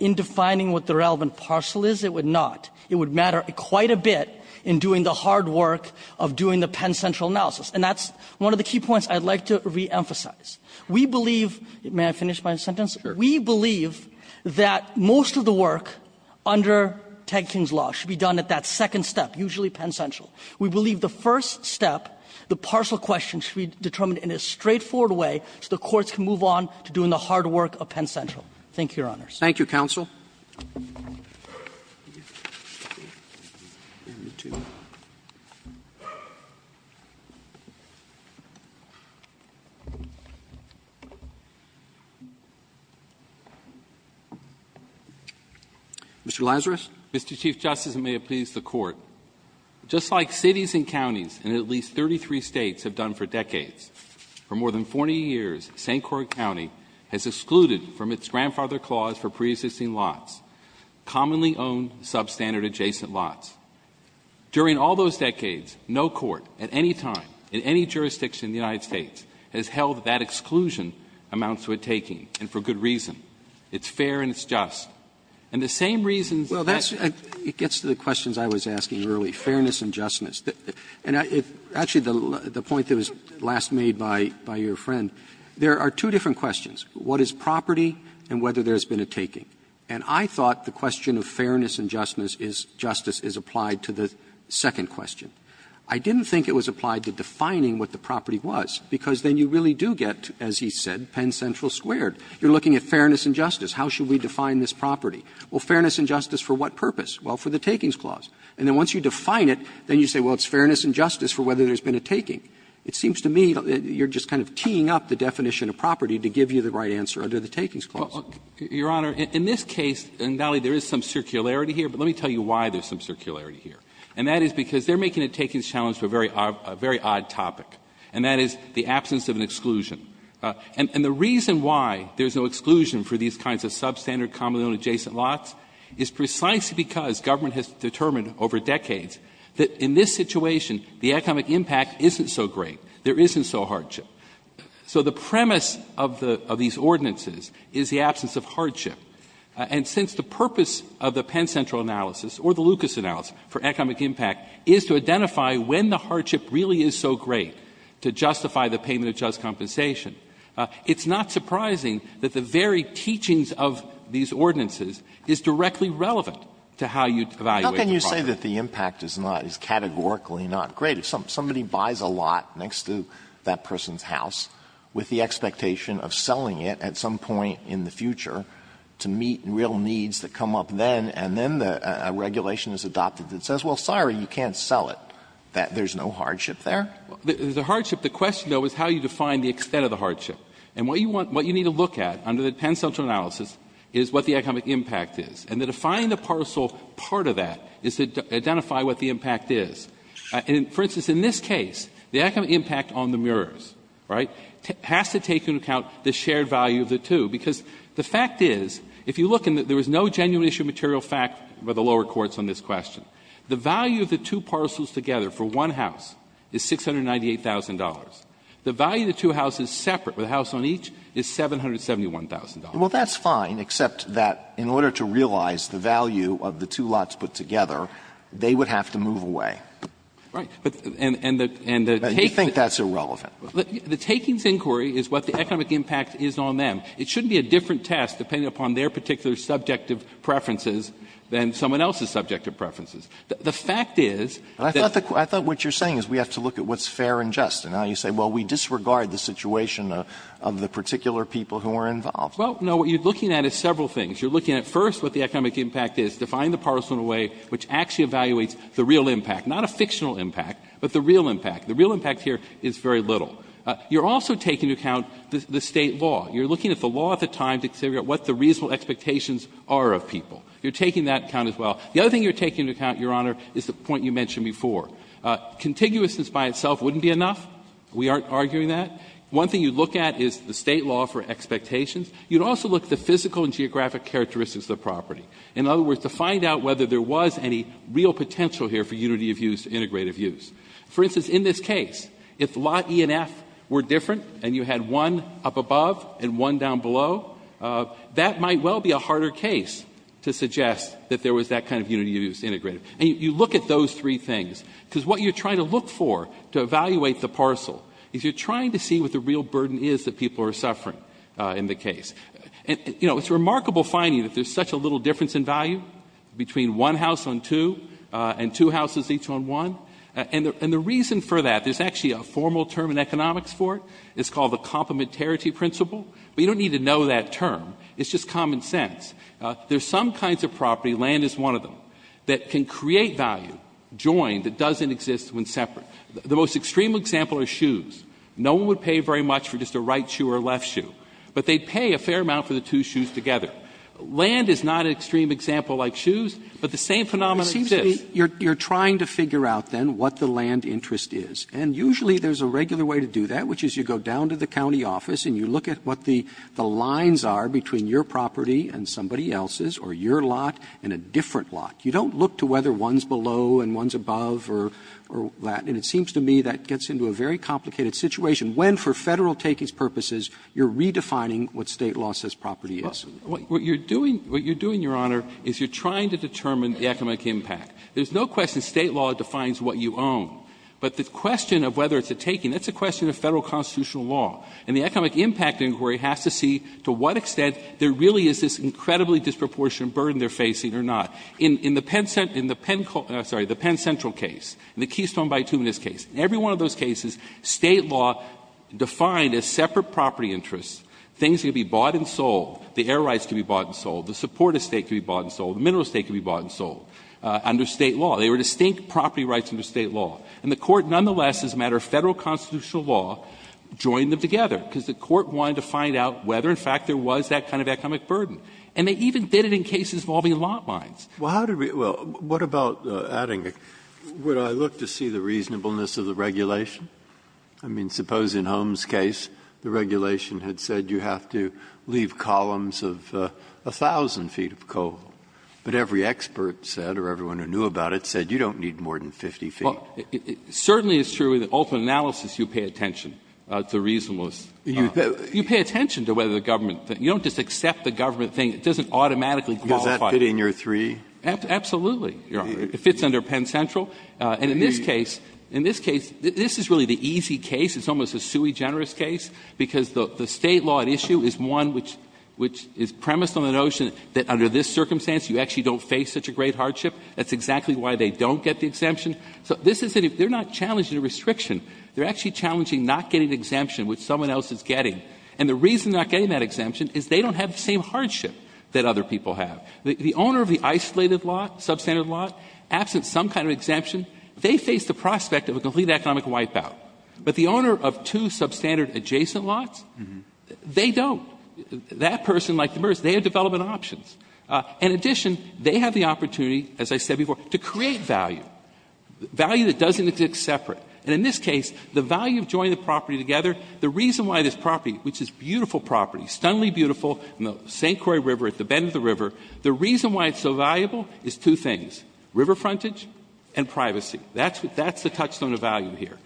In defining what the relevant parcel is, it would not. It would matter quite a bit in doing the hard work of doing the Penn Central analysis. And that's one of the key points I'd like to reemphasize. May I finish my sentence? We believe that most of the work under Ted King's law should be done at that second step, usually Penn Central. We believe the first step, the parcel question, should be determined in a straightforward way so the courts can move on to doing the hard work of Penn Central. Thank you, Your Honors. Thank you, Counsel. Mr. Lazarus? Mr. Chief Justice, and may it please the Court, just like cities and counties in at least 33 states have done for decades, for more than 40 years, St. Croix County has excluded from its grandfather clause for preexisting lots, commonly owned substandard adjacent lots. During all those decades, no court at any time in any jurisdiction in the United States has held that exclusion. Exclusion amounts to a taking, and for good reason. It's fair and it's just. And the same reason... Well, that's... It gets to the questions I was asking earlier, fairness and justness. And actually, the point that was last made by your friend, there are two different questions, what is property and whether there's been a taking. And I thought the question of fairness and justness is applied to the second question. I didn't think it was applied to defining what the property was because then you really do get, as he said, Penn Central squared. You're looking at fairness and justice. How should we define this property? Well, fairness and justice for what purpose? Well, for the takings clause. And then once you define it, then you say, well, it's fairness and justice for whether there's been a taking. It seems to me you're just kind of teeing up the definition of property to give you the right answer under the takings clause. Your Honor, in this case, and, Valley, there is some circularity here, but let me tell you why there's some circularity here. And that is because they're making a takings challenge for a very odd topic, and that is the absence of an exclusion. And the reason why there's no exclusion for these kinds of substandard, commonly known adjacent lots is precisely because government has determined over decades that in this situation, the economic impact isn't so great. There isn't so hardship. So the premise of these ordinances is the absence of hardship. And since the purpose of the Penn Central analysis or the Lucas analysis for economic impact is to identify when the hardship really is so great to justify the payment of just compensation, it's not surprising that the very teachings of these ordinances is directly relevant to how you evaluate the project. How can you say that the impact is not, is categorically not great? If somebody buys a lot next to that person's house with the expectation of selling it at some point in the future to meet real needs that come up then, and then a regulation is adopted that says, well, sorry, you can't sell it. There's no hardship there? The hardship, the question, though, is how you define the extent of the hardship. And what you need to look at under the Penn Central analysis is what the economic impact is. And the defining the parcel part of that is to identify what the impact is. For instance, in this case, the economic impact on the murals, right, has to take into account the shared value of the two, because the fact is, if you look, there is no genuine issue of material fact by the lower courts on this question. The value of the two parcels together for one house is $698,000. The value of the two houses separate with a house on each is $771,000. Well, that's fine, except that in order to realize the value of the two lots put together, they would have to move away. Right. And you think that's irrelevant. The takings inquiry is what the economic impact is on them. It shouldn't be a different test depending upon their particular subjective preferences than someone else's subjective preferences. The fact is that... I thought what you're saying is we have to look at what's fair and just. And now you say, well, we disregard the situation of the particular people who are involved. Well, no, what you're looking at is several things. You're looking at first what the economic impact is, define the parcel in a way which actually evaluates the real impact, not a fictional impact, but the real impact. The real impact here is very little. You're also taking into account the state law. You're looking at the law at the time to figure out what the reasonable expectations are of people. You're taking that into account as well. The other thing you're taking into account, Your Honor, is the point you mentioned before. Contiguousness by itself wouldn't be enough. We aren't arguing that. One thing you'd look at is the state law for expectations. You'd also look at the physical and geographic characteristics of the property. In other words, to find out whether there was any real potential here for unity of use, integrated use. For instance, in this case, if lot E and F were different and you had one up above and one down below, that might well be a harder case to suggest that there was that kind of unity of use integrated. You look at those three things because what you're trying to look for to evaluate the parcel is you're trying to see what the real burden is that people are suffering in the case. It's a remarkable finding that there's such a little difference in value between one house on two and two houses each on one. And the reason for that, there's actually a formal term in economics for it. It's called the complementarity principle. But you don't need to know that term. It's just common sense. There's some kinds of property, land is one of them, that can create value joined that doesn't exist when separate. The most extreme example are shoes. No one would pay very much for just a right shoe or a left shoe. But they pay a fair amount for the two shoes together. Land is not an extreme example like shoes, but the same phenomenon seems to exist. You're trying to figure out then what the land interest is. And usually there's a regular way to do that, which is you go down to the county office and you look at what the lines are between your property and somebody else's or your lot and a different lot. You don't look to whether one's below and one's above or that. And it seems to me that gets into a very complicated situation when for federal takings purposes you're redefining what state law says property is. What you're doing, Your Honor, is you're trying to determine the economic impact. There's no question state law defines what you own. But the question of whether it's a taking, that's a question of federal constitutional law. And the economic impact inquiry has to see to what extent there really is this incredibly disproportionate burden they're facing or not. In the Penn Central case, the Keystone-By-Two in this case, in every one of those cases state law defined as separate property interests. Things can be bought and sold. The air rights can be bought and sold. The support estate can be bought and sold. The mineral estate can be bought and sold under state law. They were distinct property rights under state law. And the court nonetheless, as a matter of federal constitutional law, joined them together because the court wanted to find out whether, in fact, there was that kind of economic burden. And they even did it in cases involving lot lines. Well, what about adding it? Would I look to see the reasonableness of the regulation? I mean, suppose in Holmes' case the regulation had said you have to leave columns of 1,000 feet of coal. But every expert said, or everyone who knew about it, said you don't need more than 50 feet. Well, it certainly is true in the open analysis you pay attention to reasonableness. You pay attention to whether the government, you don't just accept the government thing. It doesn't automatically qualify. Does that fit in your three? Absolutely. It fits under Penn Central. And in this case, this is really the easy case. It's almost a sui generis case because the state law issue is one which is premised on the notion that under this circumstance you actually don't face such a great hardship. That's exactly why they don't get the exemption. So this is it. They're not challenging a restriction. They're actually challenging not getting an exemption which someone else is getting. And the reason they're not getting that exemption is they don't have the same hardship that other people have. The owner of the isolated lot, substandard lot, absent some kind of exemption, they face the prospect of a complete economic wipeout. But the owner of two substandard adjacent lots, they don't. That person, like the first, they have development options. In addition, they have the opportunity, as I said before, to create value. Value that doesn't exist separate. And in this case, the value of joining the property together, the reason why this property, which is a beautiful property, stunningly beautiful in the St. Croix River at the bend of the river, the reason why it's so valuable is two things, river frontage and privacy. That's the touchstone of value here.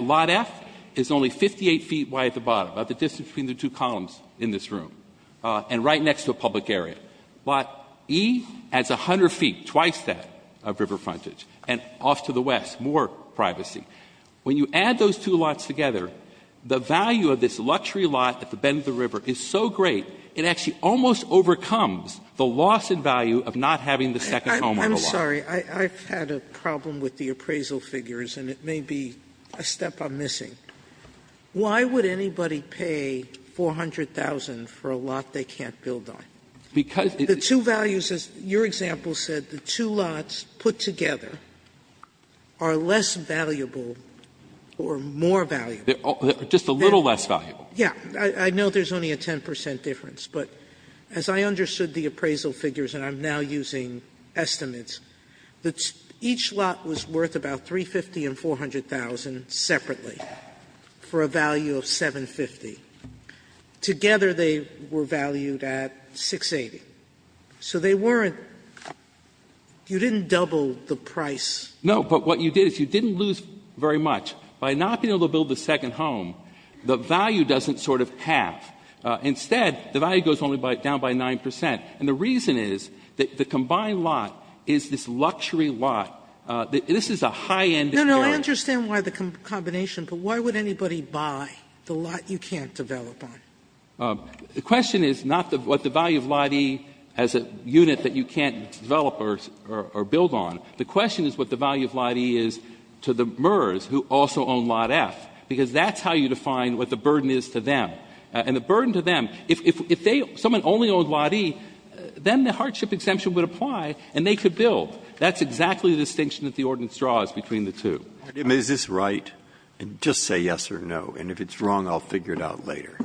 Lot F is only 58 feet wide at the bottom, about the distance between the two columns in this room, and right next to a public area. Lot E adds 100 feet, twice that of river frontage. And off to the west, more privacy. When you add those two lots together, the value of this luxury lot at the bend of the river is so great, it actually almost overcomes the loss in value of not having the second home on the lot. I'm sorry. I've had a problem with the appraisal figures, and it may be a step I'm missing. Why would anybody pay $400,000 for a lot they can't build on? The two values, as your example said, the two lots put together are less valuable or more valuable. Just a little less valuable. Yeah. I know there's only a 10% difference, but as I understood the appraisal figures, and I'm now using estimates, each lot was worth about $350,000 and $400,000 separately for a value of $750,000. Together they were valued at $680,000. So they weren't, you didn't double the price. No, but what you did is you didn't lose very much. By not being able to build the second home, the value doesn't sort of tap. Instead, the value goes only down by 9%. And the reason is that the combined lot is this luxury lot. This is a high-end. No, no, I understand why the combination, but why would anybody buy the lot you can't develop on? The question is not what the value of lot E as a unit that you can't develop or build on. The question is what the value of lot E is to the MERS who also own lot F, because that's how you define what the burden is to them. And the burden to them, if someone only owns lot E, then the hardship exemption would apply and they could build. That's exactly the distinction that the ordinance draws between the two. Is this right? Just say yes or no, and if it's wrong, I'll figure it out later.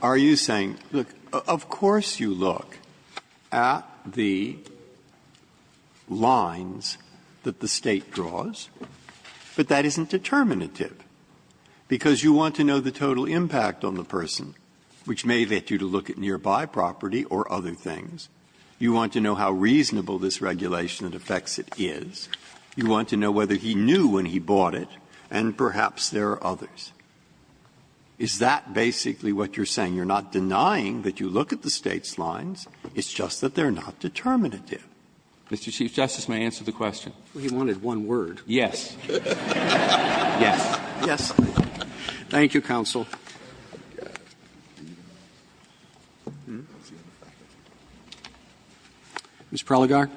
Are you saying, look, of course you look at the lines that the state draws, but that isn't determinative, because you want to know the total impact on the person, which may get you to look at nearby property or other things. You want to know how reasonable this regulation and effects it is. You want to know whether he knew when he bought it, and perhaps there are others. Is that basically what you're saying? You're not denying that you look at the state's lines. It's just that they're not determinative. Mr. Chief Justice, may I answer the question? He wanted one word. Yes. Yes. Yes. Thank you, counsel. Ms. Prelogar.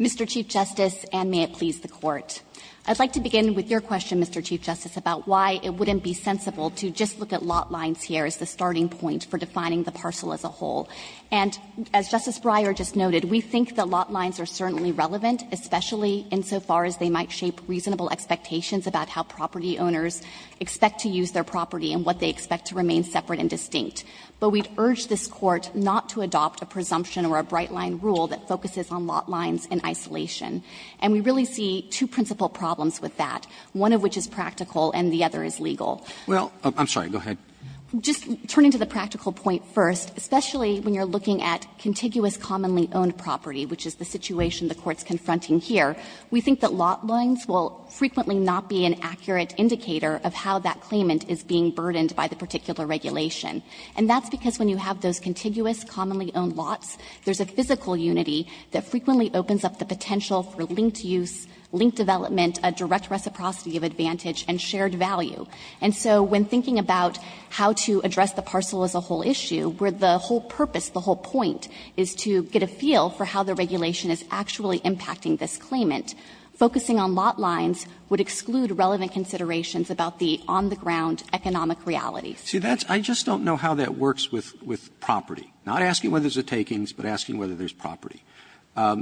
Mr. Chief Justice, and may it please the Court, I'd like to begin with your question, Mr. Chief Justice, about why it wouldn't be sensible to just look at lot lines here as the starting point for defining the parcel as a whole. And as Justice Breyer just noted, we think that lot lines are certainly relevant, especially insofar as they might shape reasonable expectations about how property owners expect to use their property and what they expect to remain separate and distinct. But we'd urge this Court not to adopt a presumption or a bright-line rule that focuses on lot lines in isolation. And we really see two principal problems with that, one of which is practical and the other is legal. Well, I'm sorry. Go ahead. Just turning to the practical point first, especially when you're looking at contiguous commonly-owned property, which is the situation the Court's confronting here, we think that lot lines will frequently not be an accurate indicator of how that claimant is being burdened by the particular regulation. And that's because when you have those contiguous commonly-owned lots, there's a physical unity that frequently opens up the potential for linked use, linked development, a direct reciprocity of advantage, and shared value. And so when thinking about how to address the parcel as a whole issue, where the whole purpose, the whole point is to get a feel for how the regulation is actually impacting this claimant, focusing on lot lines would exclude relevant considerations about the on-the-ground economic reality. See, I just don't know how that works with property. Not asking whether there's a takings, but asking whether there's property.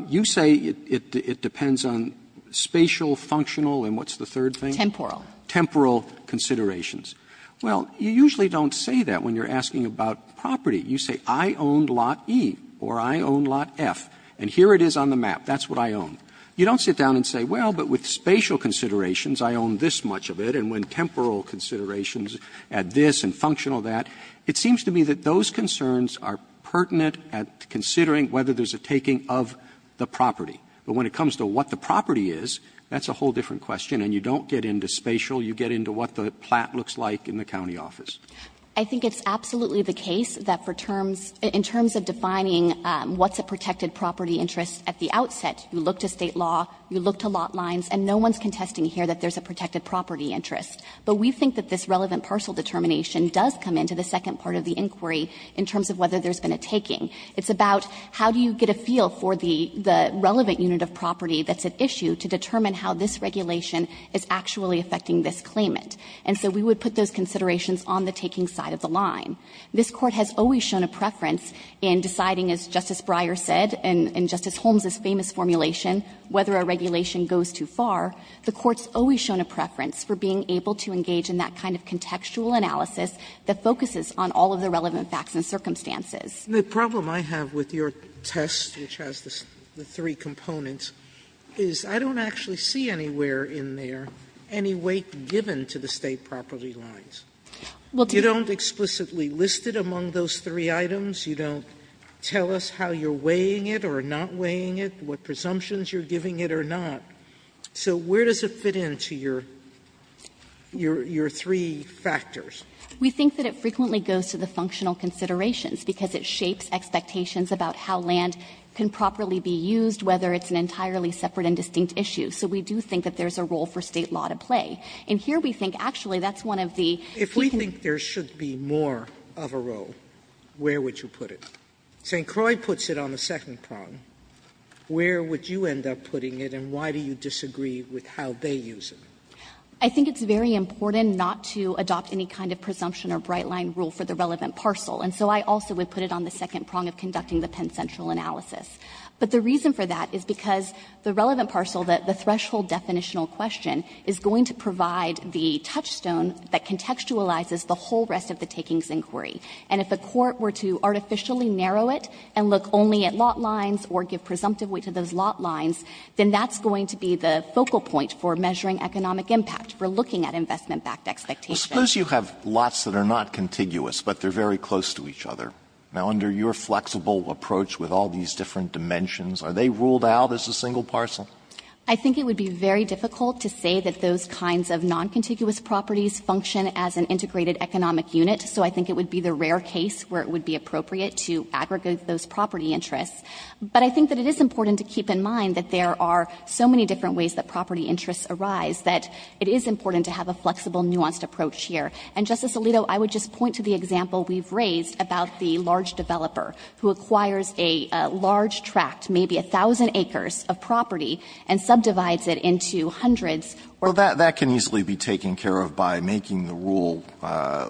You say it depends on spatial, functional, and what's the third thing? Temporal. Temporal considerations. Well, you usually don't say that when you're asking about property. You say, I own lot E, or I own lot F, and here it is on the map. That's what I own. You don't sit down and say, well, but with spatial considerations, I own this much of it, and when temporal considerations add this and functional that. It seems to me that those concerns are pertinent at considering whether there's a taking of the property. But when it comes to what the property is, that's a whole different question, and you don't get into spatial. You get into what the plat looks like in the county office. I think it's absolutely the case that in terms of defining what's a protected property interest at the outset, you look to state law, you look to lot lines, and no one's contesting here that there's a protected property interest. But we think that this relevant parcel determination does come into the second part of the inquiry in terms of whether there's been a taking. It's about how do you get a feel for the relevant unit of property that's at issue to determine how this regulation is actually affecting this claimant. And so we would put those considerations on the taking side of the line. This court has always shown a preference in deciding, as Justice Breyer said and Justice Holmes' famous formulation, whether a regulation goes too far. The court's always shown a preference for being able to engage in that kind of contextual analysis that focuses on all of the relevant facts and circumstances. The problem I have with your test, which has the three components, is I don't actually see anywhere in there any weight given to the state property lines. You don't explicitly list it among those three items. You don't tell us how you're weighing it or not weighing it, what presumptions you're giving it or not. So where does it fit into your three factors? We think that it frequently goes to the functional considerations because it shapes expectations about how land can properly be used, whether it's an entirely separate and distinct issue. So we do think that there's a role for state law to play. And here we think actually that's one of the... If we think there should be more of a role, where would you put it? St. Croix puts it on the second prong. Where would you end up putting it and why do you disagree with how they use it? I think it's very important not to adopt any kind of presumption or bright-line rule for the relevant parcel. And so I also would put it on the second prong of conducting the Penn Central analysis. But the reason for that is because the relevant parcel, the threshold definitional question, is going to provide the touchstone that contextualizes the whole rest of the takings inquiry. And if the court were to artificially narrow it and look only at lot lines or give presumptive weight to those lot lines, then that's going to be the focal point for measuring economic impact, for looking at investment-backed expectations. Suppose you have lots that are not contiguous but they're very close to each other. Now, under your flexible approach with all these different dimensions, are they ruled out as a single parcel? I think it would be very difficult to say that those kinds of non-contiguous properties function as an integrated economic unit. So I think it would be the rare case where it would be appropriate to aggregate those property interests. But I think that it is important to keep in mind that there are so many different ways that property interests arise that it is important to have a flexible, nuanced approach here. And, Justice Alito, I would just point to the example we've raised about the large developer who acquires a large tract, maybe 1,000 acres of property, and subdivides it into hundreds. Well, that can easily be taken care of by making the rule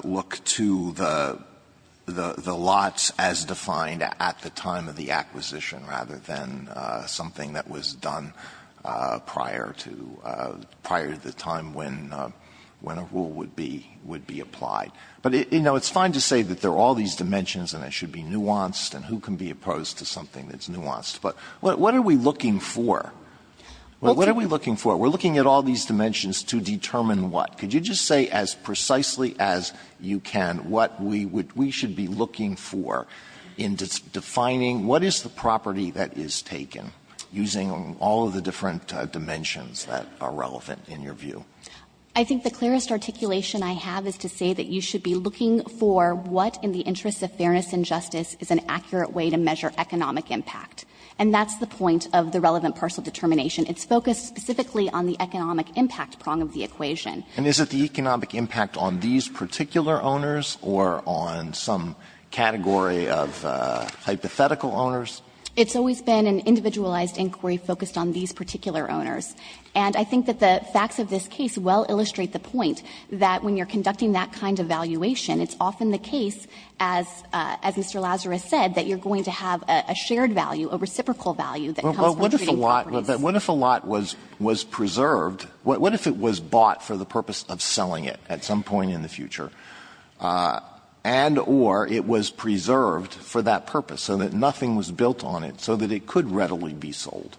look to the lots as defined at the time of the acquisition, rather than something that was done prior to the time when a rule would be applied. But, you know, it's fine to say that there are all these dimensions and it should be nuanced, and who can be opposed to something that's nuanced? But what are we looking for? What are we looking for? We're looking at all these dimensions to determine what? Could you just say as precisely as you can what we should be looking for in defining what is the property that is taken using all of the different dimensions that are relevant in your view? I think the clearest articulation I have is to say that you should be looking for what, in the interest of fairness and justice, is an accurate way to measure economic impact. And that's the point of the relevant parcel determination. It's focused specifically on the economic impact prong of the equation. And is it the economic impact on these particular owners or on some category of hypothetical owners? It's always been an individualized inquiry focused on these particular owners. And I think that the facts of this case well illustrate the point that when you're conducting that kind of valuation, it's often the case, as Mr. Lazarus said, that you're going to have a shared value, a reciprocal value. Well, what if a lot was preserved? What if it was bought for the purpose of selling it at some point in the future? And or it was preserved for that purpose so that nothing was built on it, so that it could readily be sold?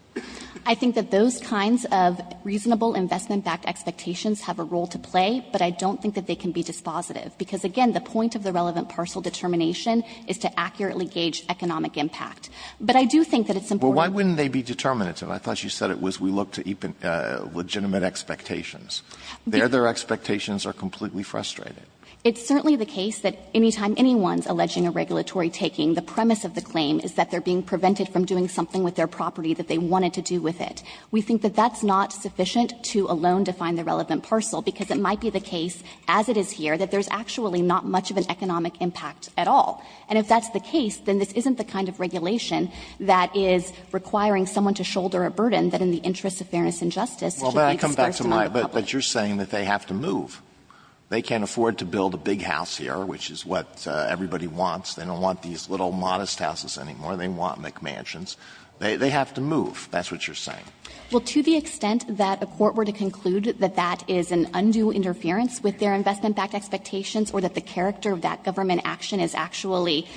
I think that those kinds of reasonable investment-backed expectations have a role to play, but I don't think that they can be dispositive because, again, the point of the relevant parcel determination is to accurately gauge economic impact. But I do think that it's important... Well, why wouldn't they be determinative? I thought you said it was we look to legitimate expectations. Their expectations are completely frustrated. It's certainly the case that anytime anyone's alleging a regulatory taking, the premise of the claim is that they're being prevented from doing something with their property that they wanted to do with it. We think that that's not sufficient to alone define the relevant parcel because it might be the case, as it is here, that there's actually not much of an economic impact at all. And if that's the case, then this isn't the kind of regulation that is requiring someone to shoulder a burden that in the interest of fairness and justice... Well, but I come back to my... But you're saying that they have to move. They can't afford to build a big house here, which is what everybody wants. They don't want these little modest houses anymore. They want McMansions. They have to move. That's what you're saying. Well, to the extent that a court were to conclude that that is an undue interference with their investment-backed expectations or that the character of that government action is actually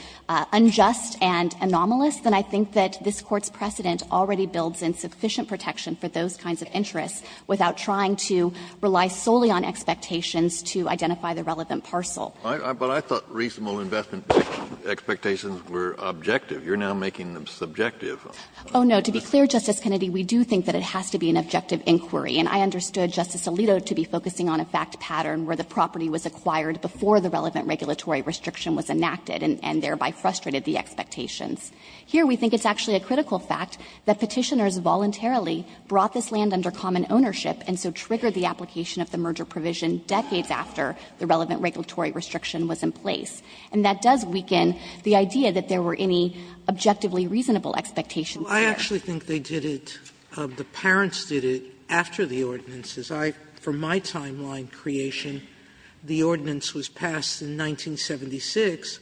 unjust and anomalous, then I think that this Court's precedent already builds in sufficient protection for those kinds of interests without trying to rely solely on expectations to identify the relevant parcel. But I thought reasonable investment expectations were objective. You're now making them subjective. Oh, no, to be clear, Justice Kennedy, we do think that it has to be an objective inquiry, and I understood Justice Alito to be focusing on a fact pattern where the property was acquired before the relevant regulatory restriction was enacted and thereby frustrated the expectations. Here we think it's actually a critical fact that petitioners voluntarily brought this land under common ownership and so triggered the application of the merger provision decades after the relevant regulatory restriction was in place. And that does weaken the idea that there were any objectively reasonable expectations there. I actually think they did it... The parents did it after the ordinances. From my timeline creation, the ordinance was passed in 1976,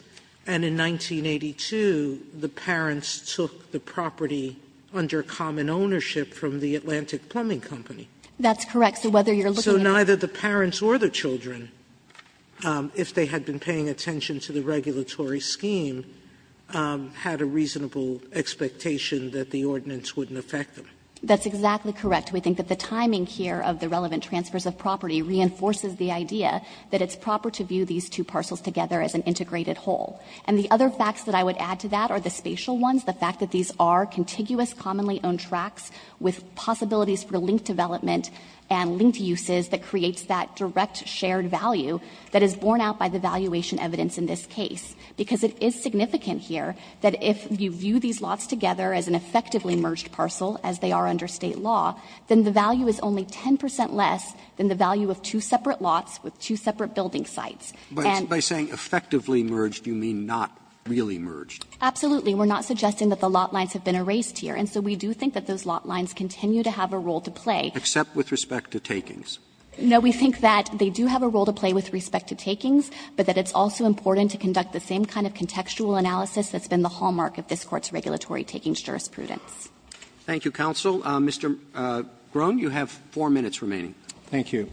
and in 1982 the parents took the property under common ownership from the Atlantic Plumbing Company. That's correct. So neither the parents or the children, if they had been paying attention to the regulatory scheme, had a reasonable expectation that the ordinance wouldn't affect them. That's exactly correct. We think that the timing here of the relevant transfers of property reinforces the idea that it's proper to view these two parcels together as an integrated whole. And the other facts that I would add to that are the spatial ones, the fact that these are contiguous, commonly owned tracts with possibilities for linked development and linked uses that creates that direct shared value that is borne out by the valuation evidence in this case. Because it is significant here that if you view these lots together as an effectively merged parcel, as they are under state law, then the value is only 10% less than the value of two separate lots with two separate building sites. By saying effectively merged, do you mean not really merged? Absolutely. We're not suggesting that the lot lines have been erased here. And so we do think that those lot lines continue to have a role to play. Except with respect to takings. No, we think that they do have a role to play with respect to takings, but that it's also important to conduct the same kind of contextual analysis that's been the hallmark of this court's regulatory takings jurisprudence. Thank you, counsel. Mr. Groen, you have four minutes remaining. Thank you.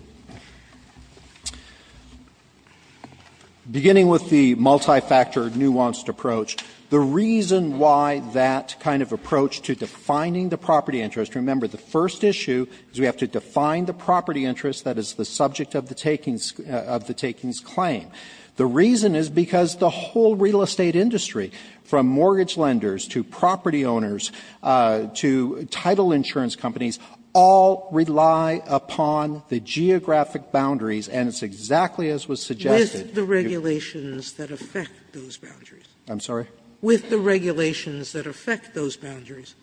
Beginning with the multi-factor nuanced approach, the reason why that kind of approach to defining the property interest, remember the first issue is we have to define the property interest that is the subject of the takings claim. The reason is because the whole real estate industry from mortgage lenders to property owners to title insurance companies all rely upon the geographic boundaries, and it's exactly as was suggested. With the regulations that affect those boundaries. I'm sorry? With the regulations that affect those boundaries,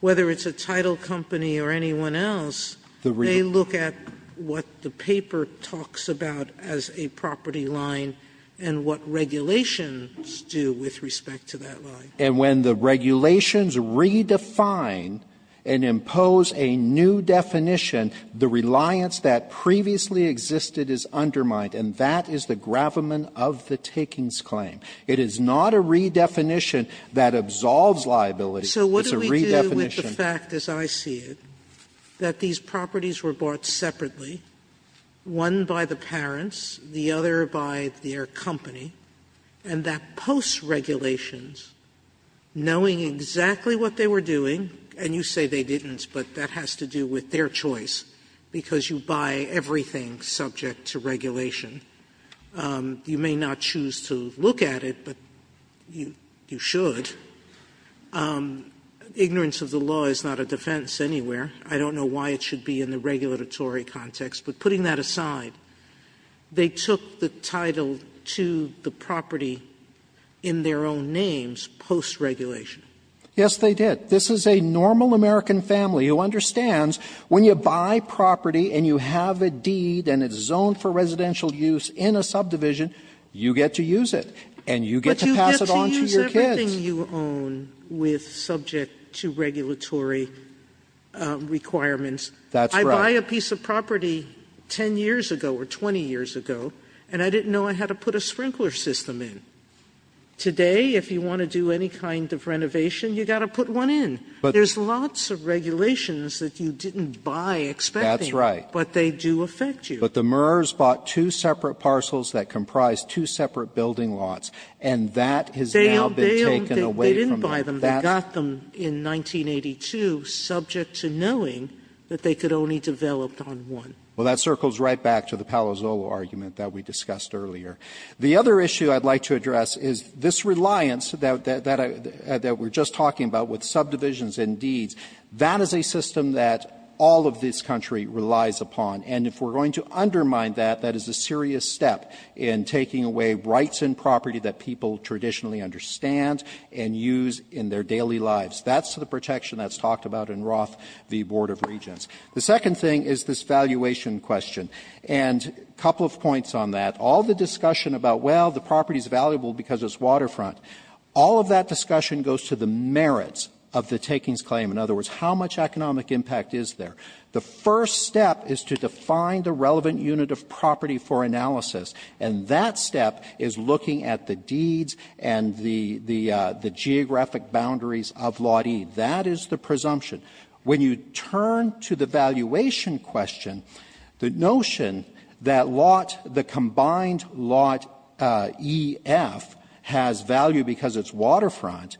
whether it's a title company or anyone else, they look at what the paper talks about as a property line and what regulations do with respect to that line. And when the regulations redefine and impose a new definition, the reliance that previously existed is undermined, and that is the gravamen of the takings claim. It is not a redefinition that absolves liability. So what do we do with the fact, as I see it, that these properties were bought separately, one by the parents, the other by their company, and that post-regulations, knowing exactly what they were doing, and you say they didn't, but that has to do with their choice, because you buy everything subject to regulation. You may not choose to look at it, but you should. Ignorance of the law is not a defense anywhere. I don't know why it should be in the regulatory context, but putting that aside, they took the title to the property in their own names post-regulation. Yes, they did. This is a normal American family who understands when you buy property and you have a deed and it's zoned for residential use in a subdivision, you get to use it, and you get to pass it on to your kids. Everything you own is subject to regulatory requirements. I buy a piece of property 10 years ago or 20 years ago, and I didn't know I had to put a sprinkler system in. Today, if you want to do any kind of renovation, you've got to put one in. There's lots of regulations that you didn't buy expecting, but they do affect you. But the Murrs bought two separate parcels that comprised two separate building lots, and that has now been taken away from them. They didn't buy them. They got them in 1982, subject to knowing that they could only develop on one. Well, that circles right back to the Palazzolo argument that we discussed earlier. The other issue I'd like to address is this reliance that we're just talking about with subdivisions and deeds. That is a system that all of this country relies upon, and if we're going to undermine that, that is a serious step in taking away rights and property that people traditionally understand and use in their daily lives. That's the protection that's talked about in Roth v. Board of Regents. The second thing is this valuation question, and a couple of points on that. All the discussion about, well, the property's valuable because it's waterfront, all of that discussion goes to the merits of the takings claim. In other words, how much economic impact is there? The first step is to define the relevant unit of property for analysis, and that step is looking at the deeds and the geographic boundaries of Lot E. That is the presumption. When you turn to the valuation question, the notion that the combined Lot E-F has value because it's waterfront,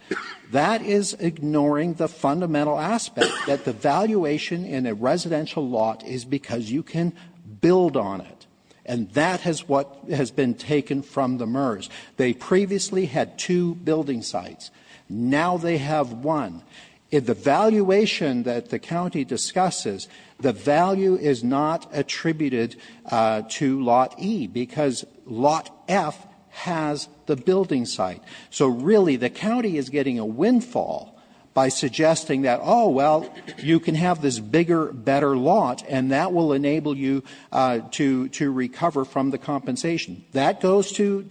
that is ignoring the fundamental aspect that the valuation in a residential lot is because you can build on it, and that is what has been taken from the MERS. They previously had two building sites. Now they have one. The valuation that the county discusses, the value is not attributed to Lot E because Lot F has the building site. So, really, the county is getting a windfall by suggesting that, oh, well, you can have this bigger, better lot, and that will enable you to recover from the compensation. That goes to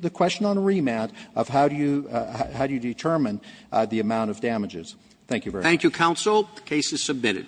the question on remand of how do you determine the amount of damages. Thank you very much. Thank you, counsel. The case is submitted.